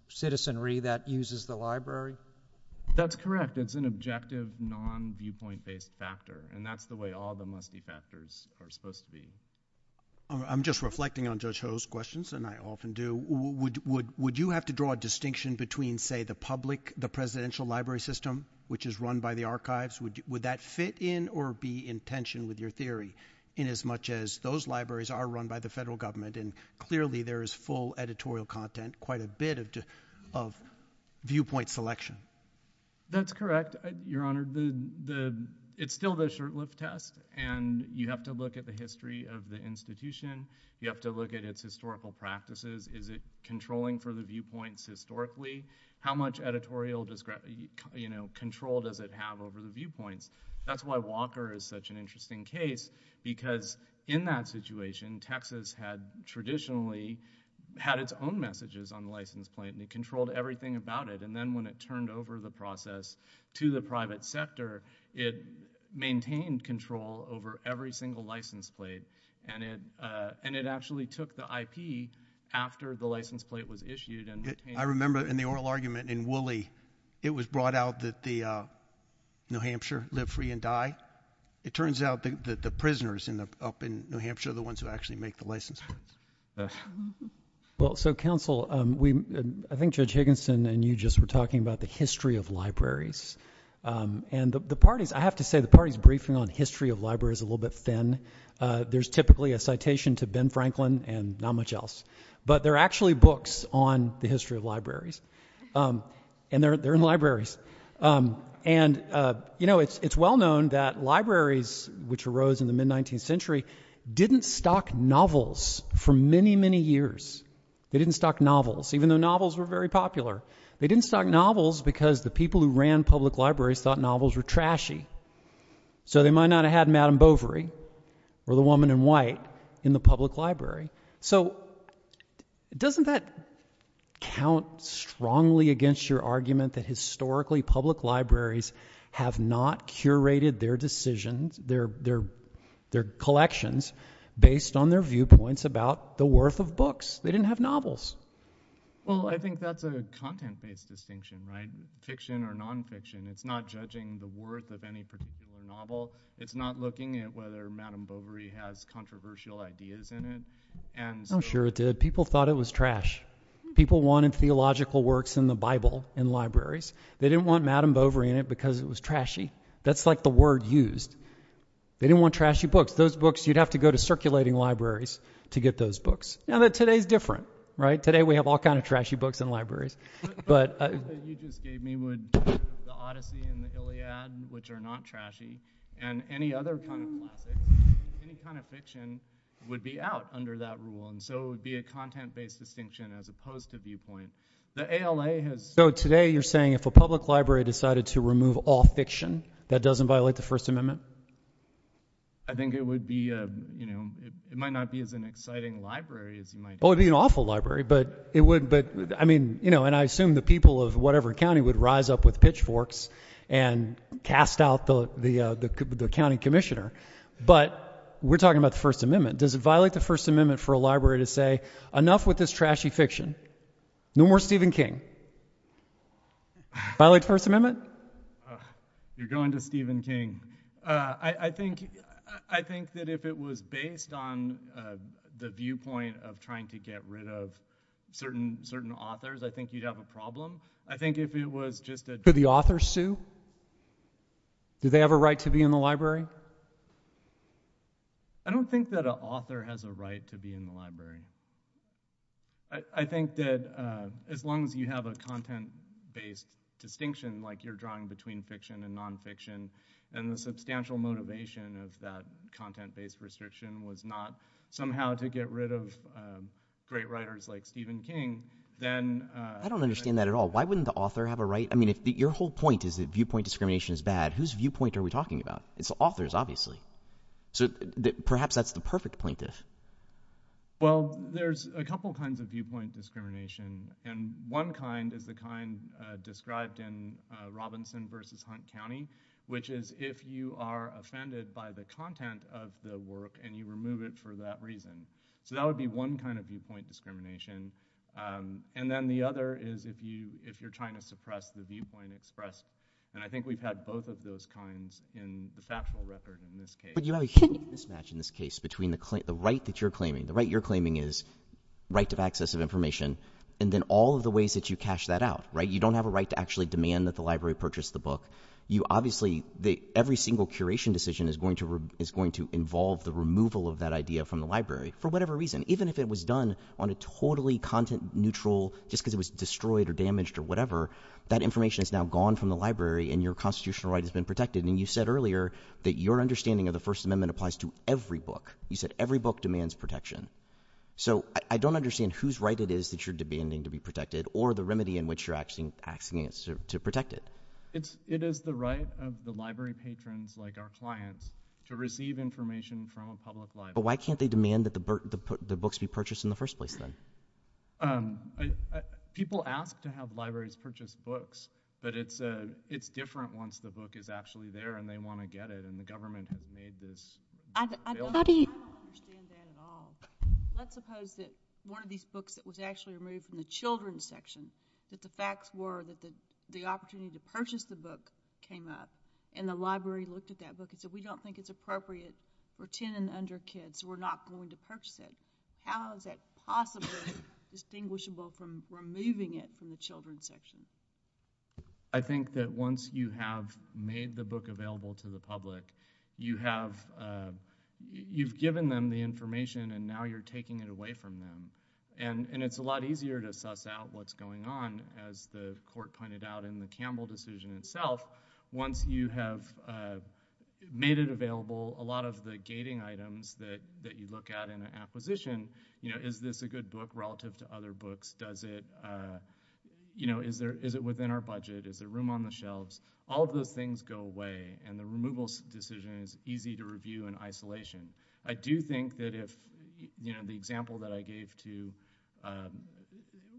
citizenry that uses the library. That's correct. That's an objective, non-viewpoint-based factor. And that's the way all the must-be factors are supposed to be. I'm just reflecting on Judge Ho's questions, and I often do. Would you have to draw a distinction between, say, the public, the presidential library system, which is run by the archives? Would that fit in or be in tension with your theory in as much as those libraries are run by the federal government? And clearly, there is full editorial content, quite a bit of viewpoint selection. That's correct, Your Honor. It's still the shirtless test. And you have to look at the history of the institution. You have to look at its historical practices. Is it controlling for the viewpoints historically? How much editorial control does it have over the viewpoint? That's why Walker is such an interesting case, because in that situation, Texas had traditionally had its own messages on the license plate, and it controlled everything about it. And then when it turned over the process to the private sector, it maintained control over every single license plate. And it actually took the IP after the license plate was issued and retained it. In the oral argument in Woolley, it was brought out that the New Hampshire live free and die. It turns out that the prisoners up in New Hampshire are the ones who actually make the license plate. Well, so counsel, I think Judge Higginson and you just were talking about the history of libraries. And I have to say, the party's briefing on history of libraries is a little bit thin. There's typically a citation to Ben Franklin and not much else. But there are actually books on the history of libraries. And they're in libraries. And it's well known that libraries, which arose in the mid-19th century, didn't stock novels for many, many years. They didn't stock novels, even though novels were very popular. They didn't stock novels because the people who ran public libraries thought novels were trashy. So they might not have had Madame Bovary or the Woman in White in the public library. So doesn't that count strongly against your argument that historically public libraries have not curated their decisions, their collections, based on their viewpoints about the worth of books? They didn't have novels. Well, I think that's a content-based distinction, right? Fiction or nonfiction, it's not judging the worth of any particular novel. It's not looking at whether Madame Bovary has controversial ideas in it. Oh, sure it did. People thought it was trash. People wanted theological works in the Bible in libraries. They didn't want Madame Bovary in it because it was trashy. That's like the word used. They didn't want trashy books. Those books, you'd have to go to circulating libraries to get those books. Now, today's different, right? Today, we have all kinds of trashy books in libraries. So you just gave me the Odyssey and the Iliad, which are not trashy. And any other kind of fiction would be out under that rule. And so it would be a content-based distinction as opposed to viewpoint. The ALA has... So today, you're saying if a public library decided to remove all fiction, that doesn't violate the First Amendment? I think it would be, you know, it might not be as an exciting library as it might be. Well, it'd be an awful library. But it would, but I mean, you know, and I assume the people of whatever county would rise up with pitchforks and cast out the county commissioner. But we're talking about the First Amendment. Does it violate the First Amendment for a library to say, enough with this trashy fiction? No more Stephen King. Violate the First Amendment? You're going to Stephen King. I think that if it was based on the viewpoint of trying to get rid of certain authors, I think you'd have a problem. I think if it was just that... Could the authors sue? Do they have a right to be in the library? I don't think that an author has a right to be in the library. I think that as long as you have a content-based distinction, like you're drawing between fiction and nonfiction, and the substantial motivation of that content-based restriction was not somehow to get rid of great writers like Stephen King, then... I don't understand that at all. Why wouldn't the author have a right? I mean, your whole point is that viewpoint discrimination is bad. Whose viewpoint are we talking about? It's the authors, obviously. So perhaps that's the perfect plaintiff. Well, there's a couple of kinds of viewpoint discrimination, and one kind is the kind described in Robinson v. Hunt County, which is if you are offended by the content of the work and you remove it for that reason. So that would be one kind of viewpoint discrimination. And then the other is if you're trying to suppress the viewpoint expressed. And I think we've had both of those kinds in the factual record in this case. But you have a huge mismatch in this case between the right that you're claiming. The right you're claiming is right to access of information, and then all of the ways that you cash that out, right? You don't have a right to actually demand that the library purchase the book. You obviously... Every single curation decision is going to involve the removal of that idea from the neutral, just because it was destroyed or damaged or whatever. That information is now gone from the library, and your constitutional right has been protected. And you said earlier that your understanding of the First Amendment applies to every book. You said every book demands protection. So I don't understand whose right it is that you're demanding to be protected or the remedy in which you're asking to protect it. It is the right of the library patrons, like our clients, to receive information from a public library. But why can't they demand that the books be purchased in the first place, then? People ask to have libraries purchase books, but it's different once the book is actually there and they want to get it, and the government has made this... I don't understand that at all. Let's suppose that one of these books that was actually removed from the children's section, that the facts were that the opportunity to purchase the book came up, and the library looked at that book and said, we don't think it's appropriate for 10 and under kids, so we're not going to purchase it. How is that possibly distinguishable from removing it from the children's section? I think that once you have made the book available to the public, you've given them the information and now you're taking it away from them. And it's a lot easier to suss out what's going on, as the Court pointed out in the Campbell decision itself, once you have made it available, a lot of the gating items that you look at in the acquisition, is this a good book relative to other books? Is it within our budget? Is there room on the shelves? All of those things go away, and the removal decision is easy to review in isolation. I do think that if the example that I gave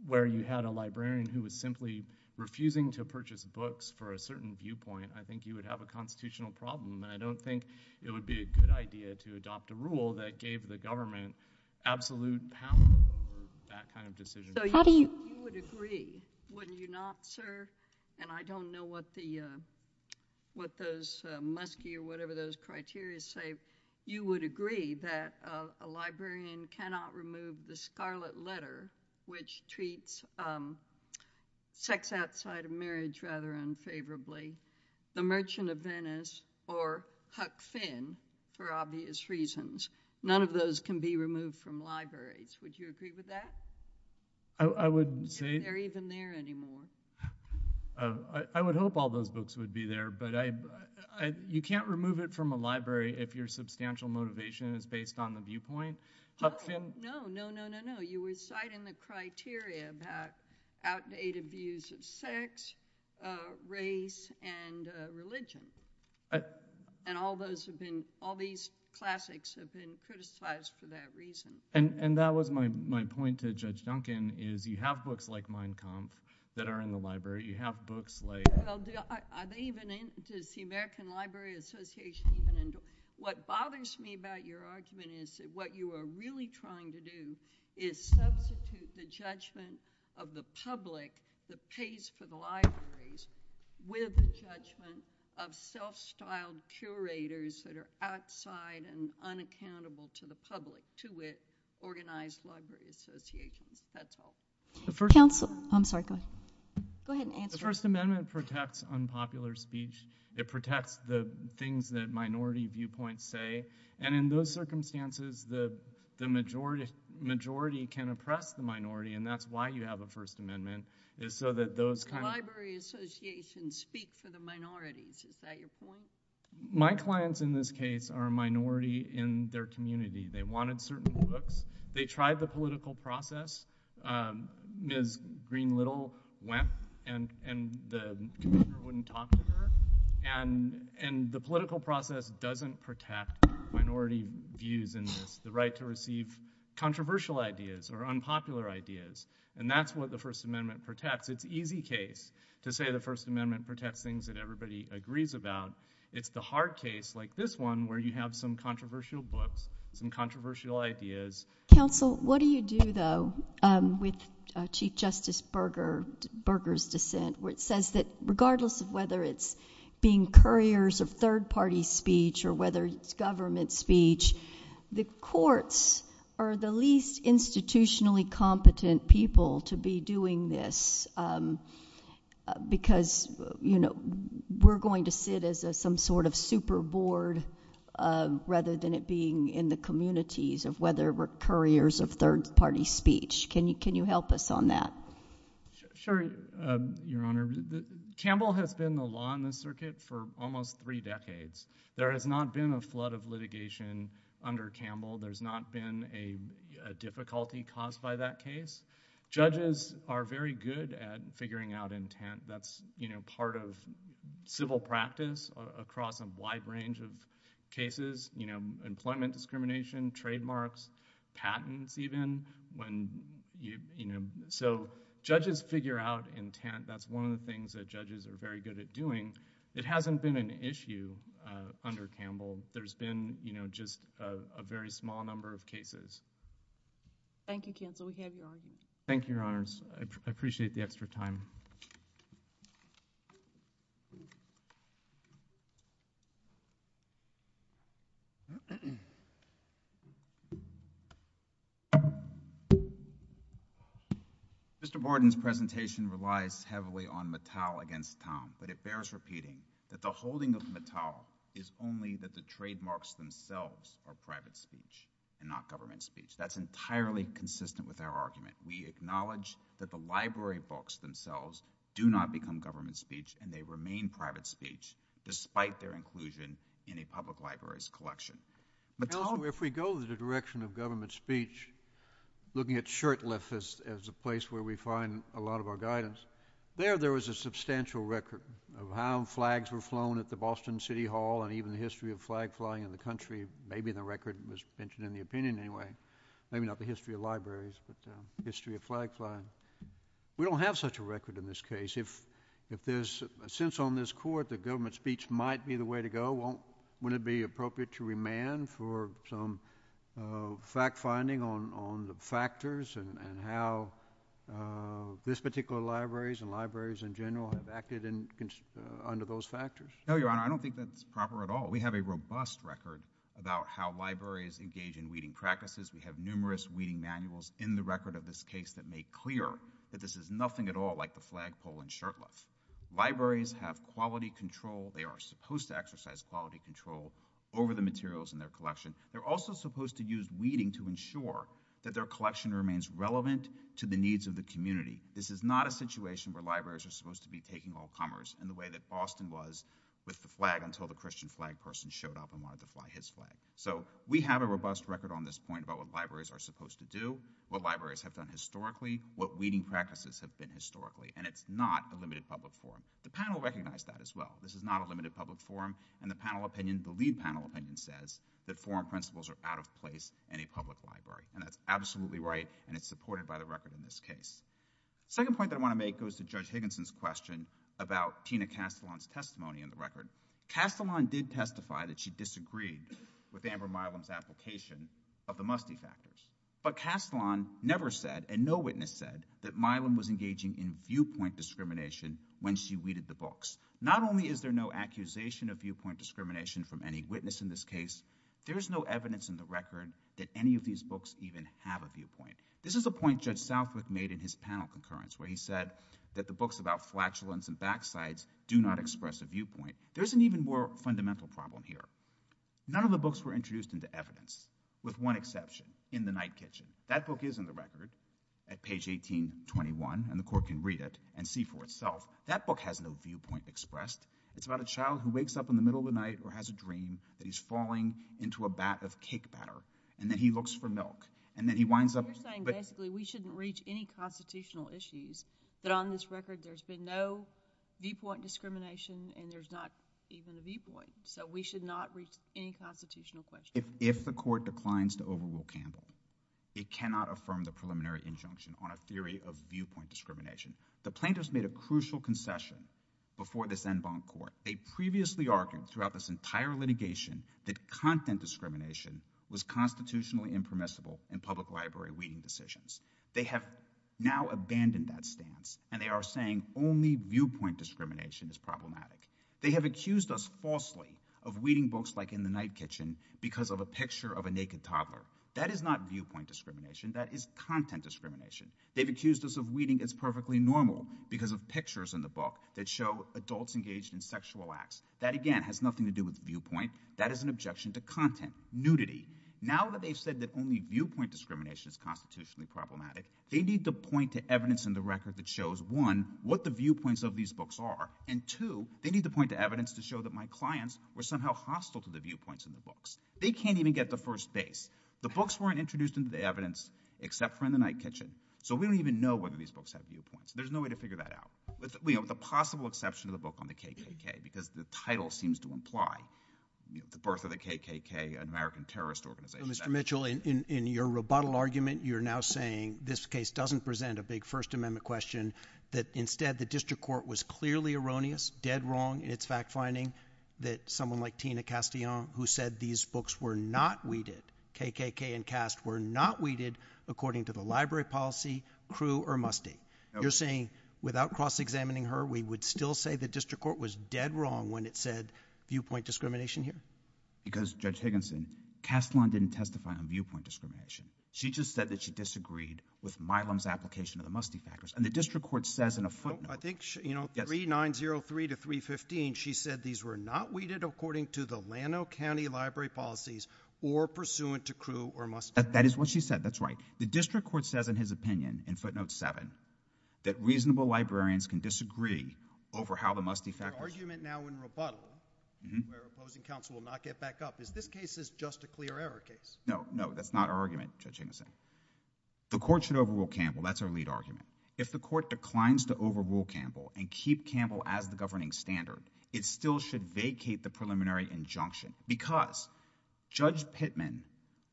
where you had a librarian who was simply refusing to purchase books for a certain viewpoint, I think you would have a constitutional problem, and I don't think it would be a good idea to adopt a rule that gave the government absolute power over that kind of decision. So you would agree, wouldn't you not, sir? And I don't know what those musky or whatever those criteria say. You would agree that a librarian cannot remove the scarlet letter, which treats sex outside of marriage rather unfavorably, The Merchant of Venice, or Huck Finn, for obvious reasons. None of those can be removed from libraries. Would you agree with that? I would say— If they're even there anymore. I would hope all those books would be there, but you can't remove it from a library if your substantial motivation is based on the viewpoint. Huck Finn— No, no, no, no, no. You were citing the criteria about outdated views of sex, race, and religion. And all those have been—all these classics have been criticized for that reason. And that was my point to Judge Duncan, is you have books like Mein Kampf that are in the library. You have books like— I may even—the American Library Association—what bothers me about your argument is that what you are really trying to do is substitute the judgment of the public that pays for the libraries with the judgment of self-styled curators that are outside and unaccountable to the public, to an organized library association. That's all. The first— Counsel. I'm sorry. Go ahead and answer. The First Amendment protects unpopular speech. It protects the things that minority viewpoints say. And in those circumstances, the majority can oppress the minority. And that's why you have a First Amendment, is so that those kind of— Library associations speak for the minorities. Is that your point? My clients, in this case, are a minority in their community. They wanted certain books. They tried the political process. Ms. Green-Little went, and the community wouldn't talk to her. And the political process doesn't protect minority views and the right to receive controversial ideas or unpopular ideas. And that's what the First Amendment protects. It's easy case to say the First Amendment protects things that everybody agrees about. It's the hard case, like this one, where you have some controversial books, some controversial ideas. Counsel, what do you do, though, with Chief Justice Burger's dissent, which says that regardless of whether it's being couriers of third-party speech or whether it's government speech, the courts are the least institutionally competent people to be doing this, because, you know, we're going to see it as some sort of super board rather than it being in the communities of whether we're couriers of third-party speech. Can you help us on that? Sure, Your Honor. Campbell has been the law on the circuit for almost three decades. There has not been a flood of litigation under Campbell. There's not been a difficulty caused by that case. Judges are very good at figuring out intent. That's, you know, part of civil practice across a wide range of cases, you know, employment discrimination, trademarks, patents, even. When you, you know, so judges figure out intent. That's one of the things that judges are very good at doing. It hasn't been an issue under Campbell. There's been, you know, just a very small number of cases. Thank you, Campbell. We have your audience. Thank you, Your Honors. I appreciate the extra time. Mr. Borden's presentation relies heavily on Mattel against Pound, but it bears repeating that the holding of Mattel is only that the trademarks themselves are private speech and not government speech. That's entirely consistent with our argument. We acknowledge that the library books themselves do not become government speech, and they remain private speech despite their inclusion in a public library's collection. However, if we go in the direction of government speech, looking at Shurtleff as a place where we find a lot of our guidance, there, there was a substantial record of how flags were flown at the Boston City Hall, and even the history of flag flying in the country. Maybe the record was mentioned in the opinion anyway. Maybe not the history of libraries, but the history of flag flying. We don't have such a record in this case. If there's a sense on this court that government speech might be the way to go, wouldn't it be appropriate to remand for some fact-finding on the factors and how this particular libraries and libraries in general have acted under those factors? No, Your Honor, I don't think that's proper at all. We have a robust record about how libraries engage in weeding practices. We have numerous weeding manuals in the record of this case that make clear that this is nothing at all like the flag flown in Shurtleff. Libraries have quality control. They are supposed to exercise quality control over the materials in their collection. They're also supposed to use weeding to ensure that their collection remains relevant to the needs of the community. This is not a situation where libraries are supposed to be taking all commerce in the way that Boston was with the flag until the Christian flag person showed up and wanted to fly his flag. So we have a robust record on this point about what libraries are supposed to do, what libraries have done historically, what weeding practices have been historically, and it's not a limited public forum. The panel recognized that as well. This is not a limited public forum, and the panel opinion, the lead panel opinion says that forum principles are out of place in a public library. And that's absolutely right, and it's supported by the record in this case. Second point that I want to make goes to Judge Higginson's question about Tina Castellan's testimony in the record. Castellan did testify that she disagreed with Amber Milam's application of the Mustney factors. But Castellan never said and no witness said that Milam was engaging in viewpoint discrimination when she weeded the books. Not only is there no accusation of viewpoint discrimination from any witness in this case, there's no evidence in the record that any of these books even have a viewpoint. This is a point Judge Southwick made in his panel concurrence where he said that the books about flatulence and backsides do not express a viewpoint. There's an even more fundamental problem here. None of the books were introduced into evidence, with one exception, In the Night Kitchen. That book is in the record at page 1821, and the court can read it and see for itself. That book has no viewpoint expressed. It's about a child who wakes up in the middle of the night or has a dream that he's falling into a bat of cake batter, and then he looks for milk. And then he winds up... You're saying basically we shouldn't reach any constitutional issues, that on this record there's been no viewpoint discrimination, and there's not even a viewpoint. So we should not reach any constitutional questions. If the court declines to overrule Campbell, it cannot affirm the preliminary injunction on a theory of viewpoint discrimination. The plaintiffs made a crucial concession before this en banc court. They previously argued throughout this entire litigation that content discrimination was constitutionally impermissible in public library reading decisions. They have now abandoned that stance, and they are saying only viewpoint discrimination is problematic. They have accused us falsely of reading books like In the Night Kitchen because of a picture of a naked toddler. That is not viewpoint discrimination. That is content discrimination. They've accused us of reading as perfectly normal because of pictures in the book that show adults engaged in sexual acts. That, again, has nothing to do with viewpoint. That is an objection to content, nudity. Now that they've said that only viewpoint discrimination is constitutionally problematic, they need to point to evidence in the record that shows, one, what the viewpoints of these books are, and two, they need to point to evidence to show that my clients were somehow hostile to the viewpoints in the books. They can't even get the first base. The books weren't introduced into the evidence except for In the Night Kitchen, so we don't even know whether these books have viewpoints. There's no way to figure that out. We have the possible exception of the book on the KKK because the title seems to imply the birth of the KKK, an American terrorist organization. Mr. Mitchell, in your rebuttal argument, you're now saying this case doesn't present a big First Amendment question, that instead the district court was clearly erroneous, dead wrong in its fact-finding, that someone like Tina Castellan, who said these books were not weeded, KKK and CAST were not weeded according to the library policy, KREW or MUSTING. You're saying without cross-examining her, we would still say the district court was dead wrong when it said viewpoint discrimination here? Because, Judge Higginson, Castellan didn't testify on viewpoint discrimination. She just said that she disagreed with Milam's application of the MUSTING factors, and the district court says in a footnote... I think, you know, 3903 to 315, she said these were not weeded according to the Llano County library policies or pursuant to KREW or MUSTING. That is what she said, that's right. The district court says in his opinion, in footnote 7, that reasonable librarians can disagree over how the MUSTING factors... Your argument now in rebuttal, where opposing counsel will not get back up, is this case is just a clear error case? No, no, that's not our argument, Judge Higginson. The court should overrule Campbell, that's our lead argument. If the court declines to overrule Campbell and keep Campbell out of the governing standard, it still should vacate the preliminary injunction because Judge Pittman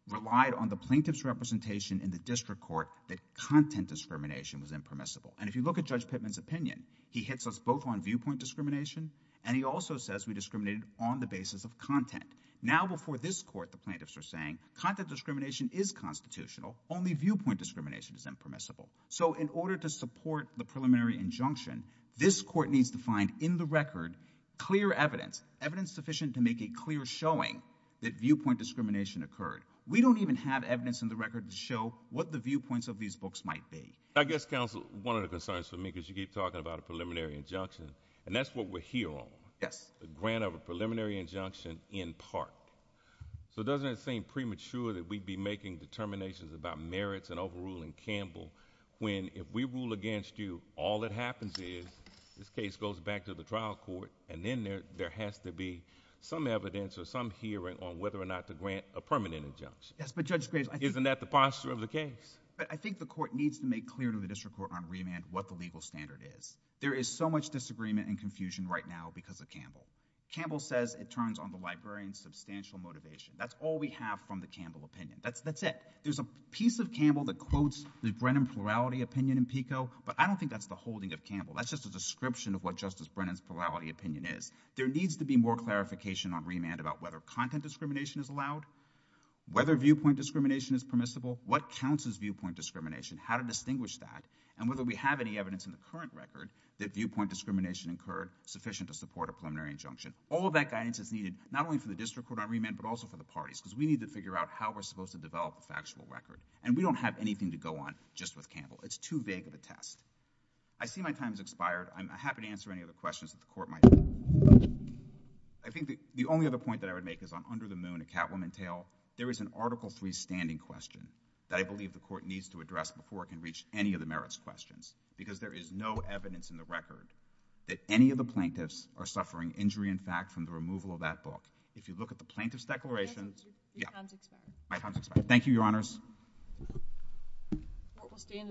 relied on the plaintiff's representation in the district court that content discrimination was impermissible. And if you look at Judge Pittman's opinion, he hits us both on viewpoint discrimination, and he also says we discriminated on the basis of content. Now, before this court, the plaintiffs are saying content discrimination is constitutional, only viewpoint discrimination is impermissible. So in order to support the preliminary injunction, this court needs to find in the record clear evidence, evidence sufficient to make a clear showing that viewpoint discrimination occurred. We don't even have evidence in the record to show what the viewpoints of these folks might be. I guess, counsel, one of the concerns for me is you keep talking about a preliminary injunction, and that's what we're here on. Yes. The grant of a preliminary injunction in part. So doesn't it seem premature that we'd be making determinations about merits and overruling Campbell, when if we rule against you, all that happens is this case goes back to the trial court, and then there has to be some evidence or some hearing on whether or not to grant a permanent injunction? Yes, but Judge Graves, I think... Isn't that the foster of the case? But I think the court needs to make clear to the district court on remand what the legal standard is. There is so much disagreement and confusion right now because of Campbell. Campbell says it turns on the librarian's substantial motivation. That's all we have from the Campbell opinion. That's it. There's a piece of Campbell that quotes the Brennan plurality opinion in PICO, but I don't think that's the holding of Campbell. That's just a description of what Justice Brennan's plurality opinion is. There needs to be more clarification on remand about whether content discrimination is allowed, whether viewpoint discrimination is permissible, what counts as viewpoint discrimination, how to distinguish that, and whether we have any evidence in the current record that viewpoint discrimination incurred sufficient to support a preliminary injunction. All of that guidance is needed, not only for the district court on remand, but also for the parties, because we need to figure out how we're supposed to develop a factual record, and we don't have anything to go on just with Campbell. It's too vague of a task. I see my time has expired. I'm happy to answer any other questions that the court might have. I think the only other point that I would make is on Under the Moon, A Catwoman Tale. There is an Article III standing question that I believe the court needs to address before it can reach any of the merits questions, because there is no evidence in the record that any of the plaintiffs are suffering injury in fact from the removal of that book. If you look at the plaintiff's declarations... Your time has expired. Thank you, Your Honors. Stand adjourned.